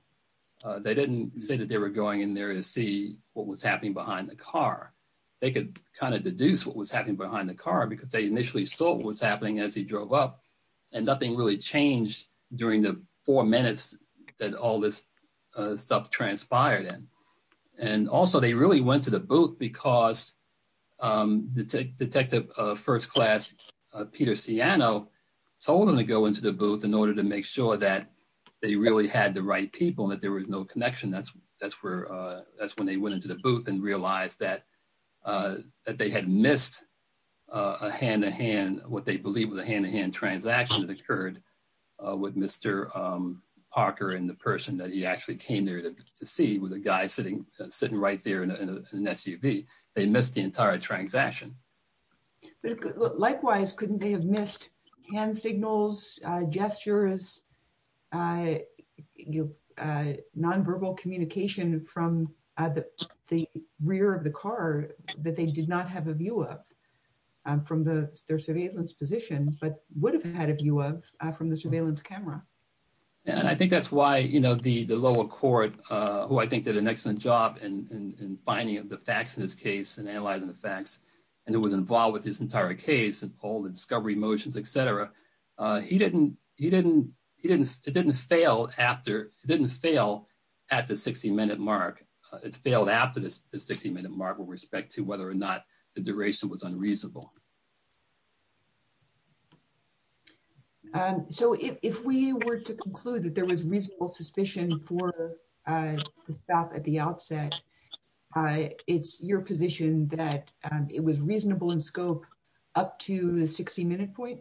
They didn't say that they were going in there to see what was happening behind the car. They could kind of deduce what was happening behind the car because they initially saw what was happening as he drove up and nothing really changed during the four minutes that all this stuff transpired in. Also, they really went to the booth because Detective First Class Peter Siano told them to go into the booth in order to make sure that they really had the right people and that there was no connection. That's when they went into the booth and realized that they had missed a hand-to-hand, what they believed was a hand-to-hand transaction that occurred with Mr. Parker and the person that he actually came there to see was a guy sitting right there in an SUV. They missed the entire transaction. Likewise, couldn't they have missed hand signals, gestures, nonverbal communication from the rear of the car that they did not have a view of from their surveillance position but would have had a view of from the surveillance camera? I think that's why the lower court, who I think did an excellent job in finding the facts in this case and analyzing the facts and was involved with this entire case and all the discovery motions, etc., it didn't fail at the 60-minute mark. It failed after the 60-minute mark with respect to whether or not the duration was unreasonable. If we were to conclude that there was reasonable suspicion for the staff at the outset, it's your position that it was reasonable in scope up to the 60-minute point?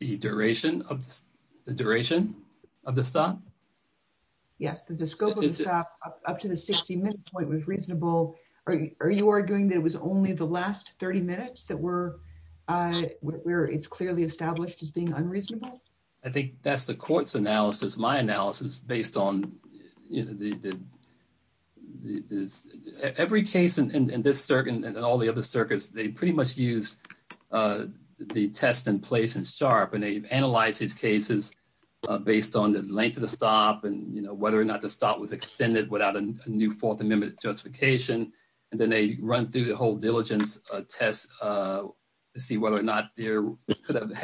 The duration of the staff? Yes. The scope of the staff up to the 60-minute point was reasonable. Are you arguing that it was only the last 30 minutes where it's clearly established as being unreasonable? I think that's the court's analysis, my analysis, based on... Every case in this circuit and all the other circuits, they pretty much use the test in place in SHARP and they analyze these cases based on the length of the stop and whether or not the stop was extended without a new Fourth Amendment justification, and then they run through the whole diligence test to see whether or not there could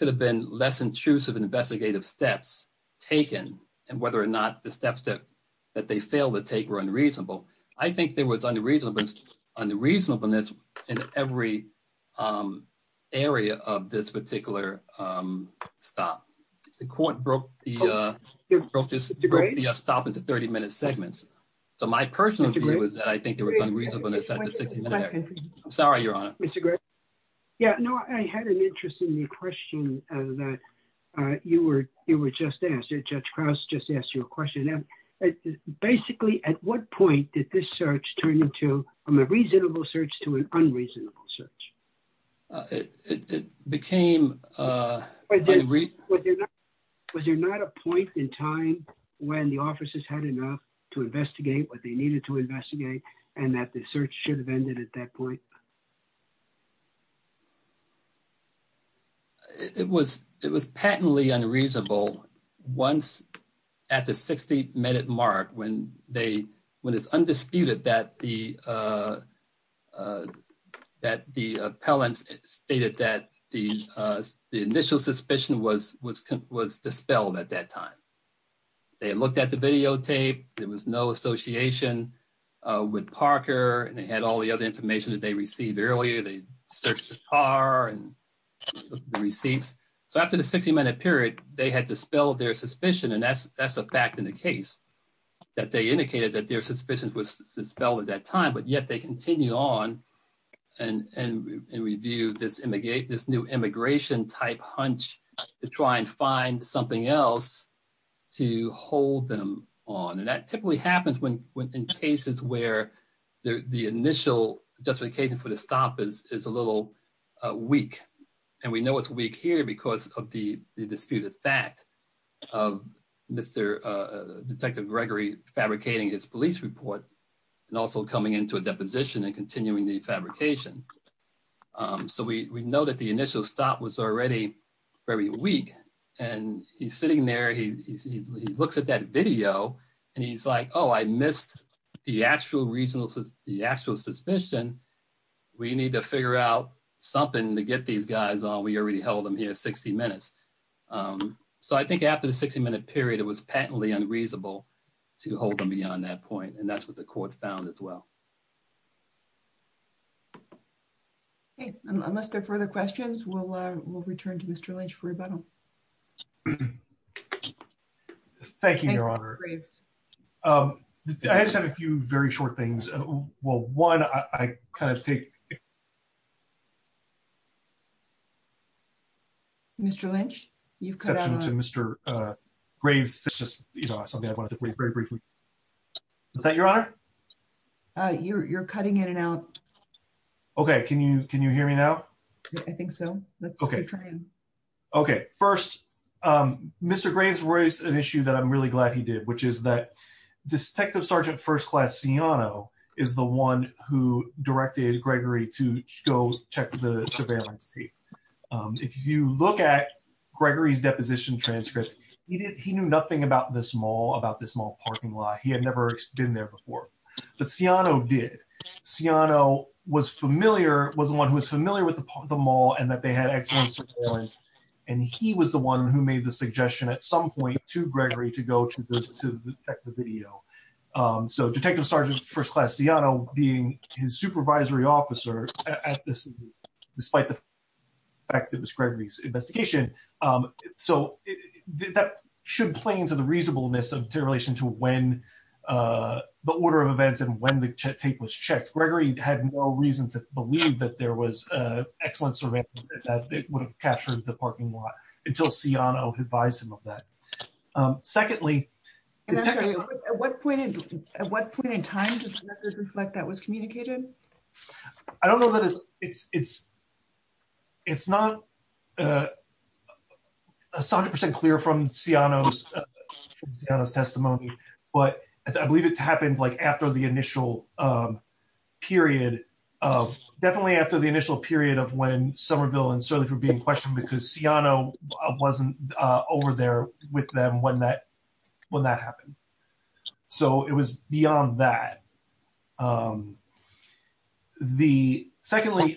have been less intrusive investigative steps taken and whether or not the steps that they failed to take were unreasonable. I think there was unreasonableness in every area of this particular stop. The court broke the stop into 30-minute segments, so my personal view is that I think there was unreasonableness at the 60-minute point. Sorry, Your Honor. Mr. Gray? Yeah, no, I had an interest in your question that you were just asked, Judge Krauss just asked you a question. Basically, at what point did this search turn into from a reasonable search to an unreasonable search? Was there not a point in time when the officers had enough to investigate what they needed to investigate and that the search should have ended at that point? It was patently unreasonable once at the 60-minute mark when it's undisputed that the appellant stated that the initial suspicion was dispelled at that time. They looked at the videotape. There was no association with Parker, and they had all the other information that they received earlier. They searched the car and the receipts. So after the 60-minute period, they had dispelled their suspicion, and that's a fact in the case, that they indicated that their suspicion was dispelled at that time, but yet they continued on and reviewed this new immigration-type hunch to try and find something else to hold them on. And that typically happens in cases where the initial justification for the stop is a little weak. And we know it's weak here because of the disputed fact of Detective Gregory fabricating his police report and also coming into a deposition and continuing the fabrication. So we know that the initial stop was already very weak, and he's sitting there. He looks at that video, and he's like, oh, I missed the actual suspicion. We need to figure out something to get these guys on. We already held them here 60 minutes. So I think after the 60-minute period, it was patently unreasonable to hold them beyond that point, and that's what the court found as well. Okay. Unless there are further questions, we'll return to Mr. Lynch for rebuttal. Thank you, Your Honor. I just have a few very short things. Well, one, I kind of think... Mr. Lynch? You've cut out... Mr. Graves. It's just something I wanted to say very briefly. Is that your honor? You're cutting in and out. Okay. Can you hear me now? I think so. Let's keep trying. Okay. Okay. First, Mr. Graves raised an issue that I'm really glad he did, which is that Detective Sergeant First Class Ciano is the one who directed Gregory to go check the surveillance tape. If you look at Gregory's deposition transcript, he knew nothing about this mall, about this mall parking lot. He had never been there before. But Ciano did. Ciano was familiar, was the one who was familiar with the mall and that they had excellent surveillance, and he was the one who made the suggestion at some point to Gregory to go check the video. So, Detective Sergeant First Class Ciano being his supervisory officer at the scene, despite the fact that it was Gregory's investigation. So, that should play into the reasonableness in relation to when the order of events and when the tape was checked. Gregory had no reason to believe that there was excellent surveillance, that it would have captured the parking lot until Ciano advised him of that. Secondly... Can I ask you, at what point in time does this reflect that was communicated? I don't know that it's... It's not 100% clear from Ciano's testimony, but I believe it's happened like after the initial period of... Definitely after the initial period of when Somerville and Surly were being questioned because Ciano wasn't over there with them when that happened. So, it was beyond that. Secondly,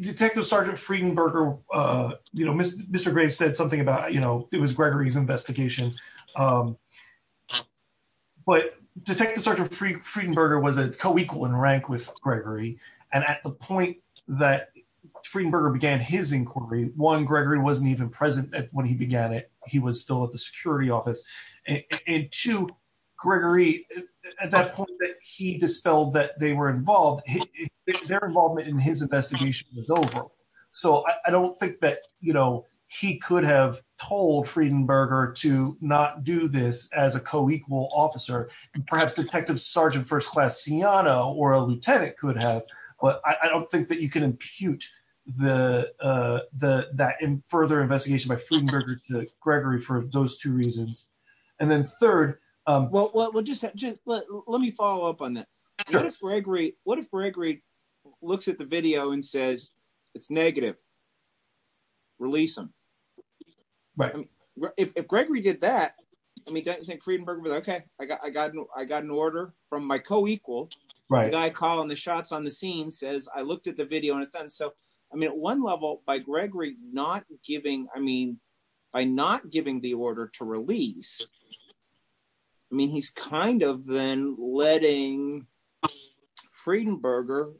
Detective Sergeant Friedenberger... Mr. Gray said something about it was Gregory's investigation. But Detective Sergeant Friedenberger was a co-equal in rank with Gregory, and at the point that Friedenberger began his inquiry, one, Gregory wasn't even present when he began it. He was still at the security office. And two, Gregory, at that point that he dispelled that they were involved, their involvement in his investigation was over. So, I don't think that he could have told Friedenberger to not do this as a co-equal officer. And perhaps Detective Sergeant First Class Ciano or a lieutenant could have. But I don't think that you can impute that further investigation by Friedenberger to Gregory for those two reasons. And then third... Well, just let me follow up on that. What if Gregory looks at the video and says, it's negative? Release him. Right. If Gregory did that, I mean, Detective Sergeant Friedenberger would say, okay, I got an order from my co-equal. Right. The guy calling the shots on the scene says, I looked at the video. So, I mean, at one level, by Gregory not giving, I mean, by not giving the order to release, I mean, he's kind of been letting Friedenberger,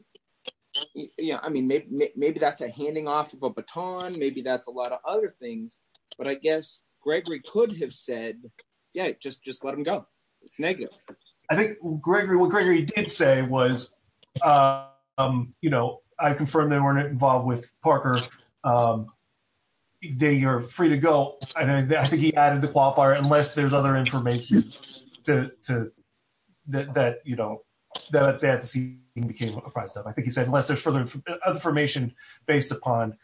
yeah, I mean, maybe that's a handing off of a baton. Maybe that's a lot of other things. But I guess Gregory could have said, yeah, just let him go. It's negative. I think what Gregory did say was, you know, I confirmed they weren't involved with Parker. They are free to go. I think he added the qualifier unless there's other information that, you know, that indicates what the price is. I think he said unless there's further information based upon...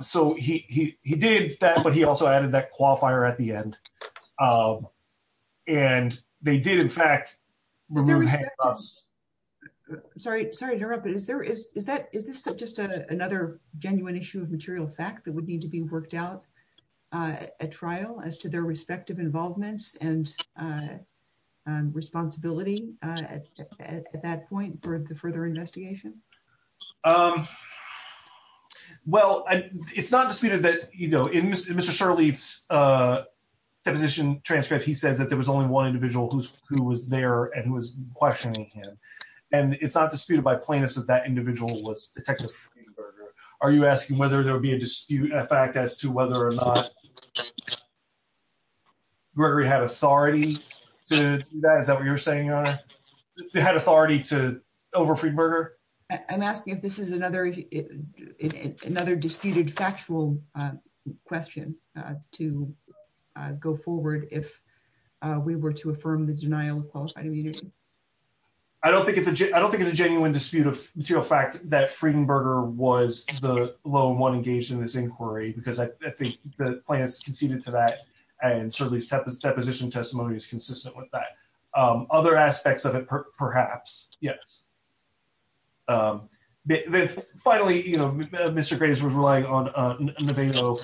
So, he did that, but he also added that qualifier at the end. And they did, in fact... Sorry to interrupt, but is this just another genuine issue of material fact that would need to be worked out at trial as to their respective involvement and responsibility at that point for the further investigation? Well, it's not disputed that, you know, in Mr. Shirley's deposition transcript, he said that there was only one individual who was there and who was questioning him. And it's not disputed by plaintiffs that that individual was Detective Friedenberger. Are you asking whether there would be a dispute in fact as to whether or not Gregory had authority to do that? Is that what you're saying, Your Honor? Had authority to over Friedenberger? I'm asking if this is another disputed factual question to go forward if we were to affirm the denial of qualified immunity. I don't think it's a genuine dispute of material fact that Friedenberger was the lone one engaged in this inquiry because I think the plaintiffs conceded to that and Shirley's deposition testimony is consistent with that. Other aspects of it, perhaps. Yes. Finally, you know, Mr. Gray is relying on Nevado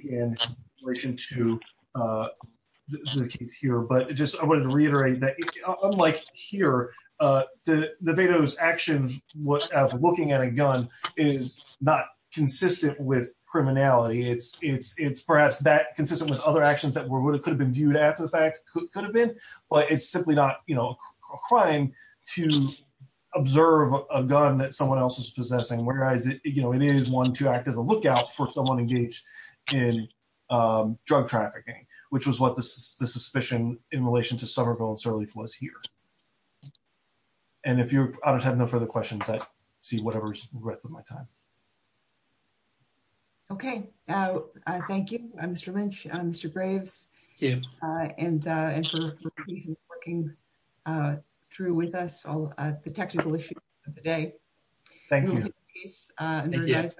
in relation to the case here. But just I wanted to reiterate that unlike here, Nevado's actions as looking at a gun is not consistent with criminality. It's perhaps that consistent with other actions that could have been viewed as a fact, could have been, but it's simply not, you know, a crime to observe a gun that someone else is possessing. Whereas, you know, it is one to act as a lookout for someone engaged in drug trafficking, which was what the suspicion in relation to Summerville and Sirleaf was here. And if you have no further questions, I see whatever's the rest of my time. Okay. Thank you, Mr. Lynch, Mr. Graves. Thank you. And for working through with us all the technical issues of the day. Thank you. Thank you. Thank you.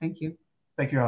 Thank you. Thank you.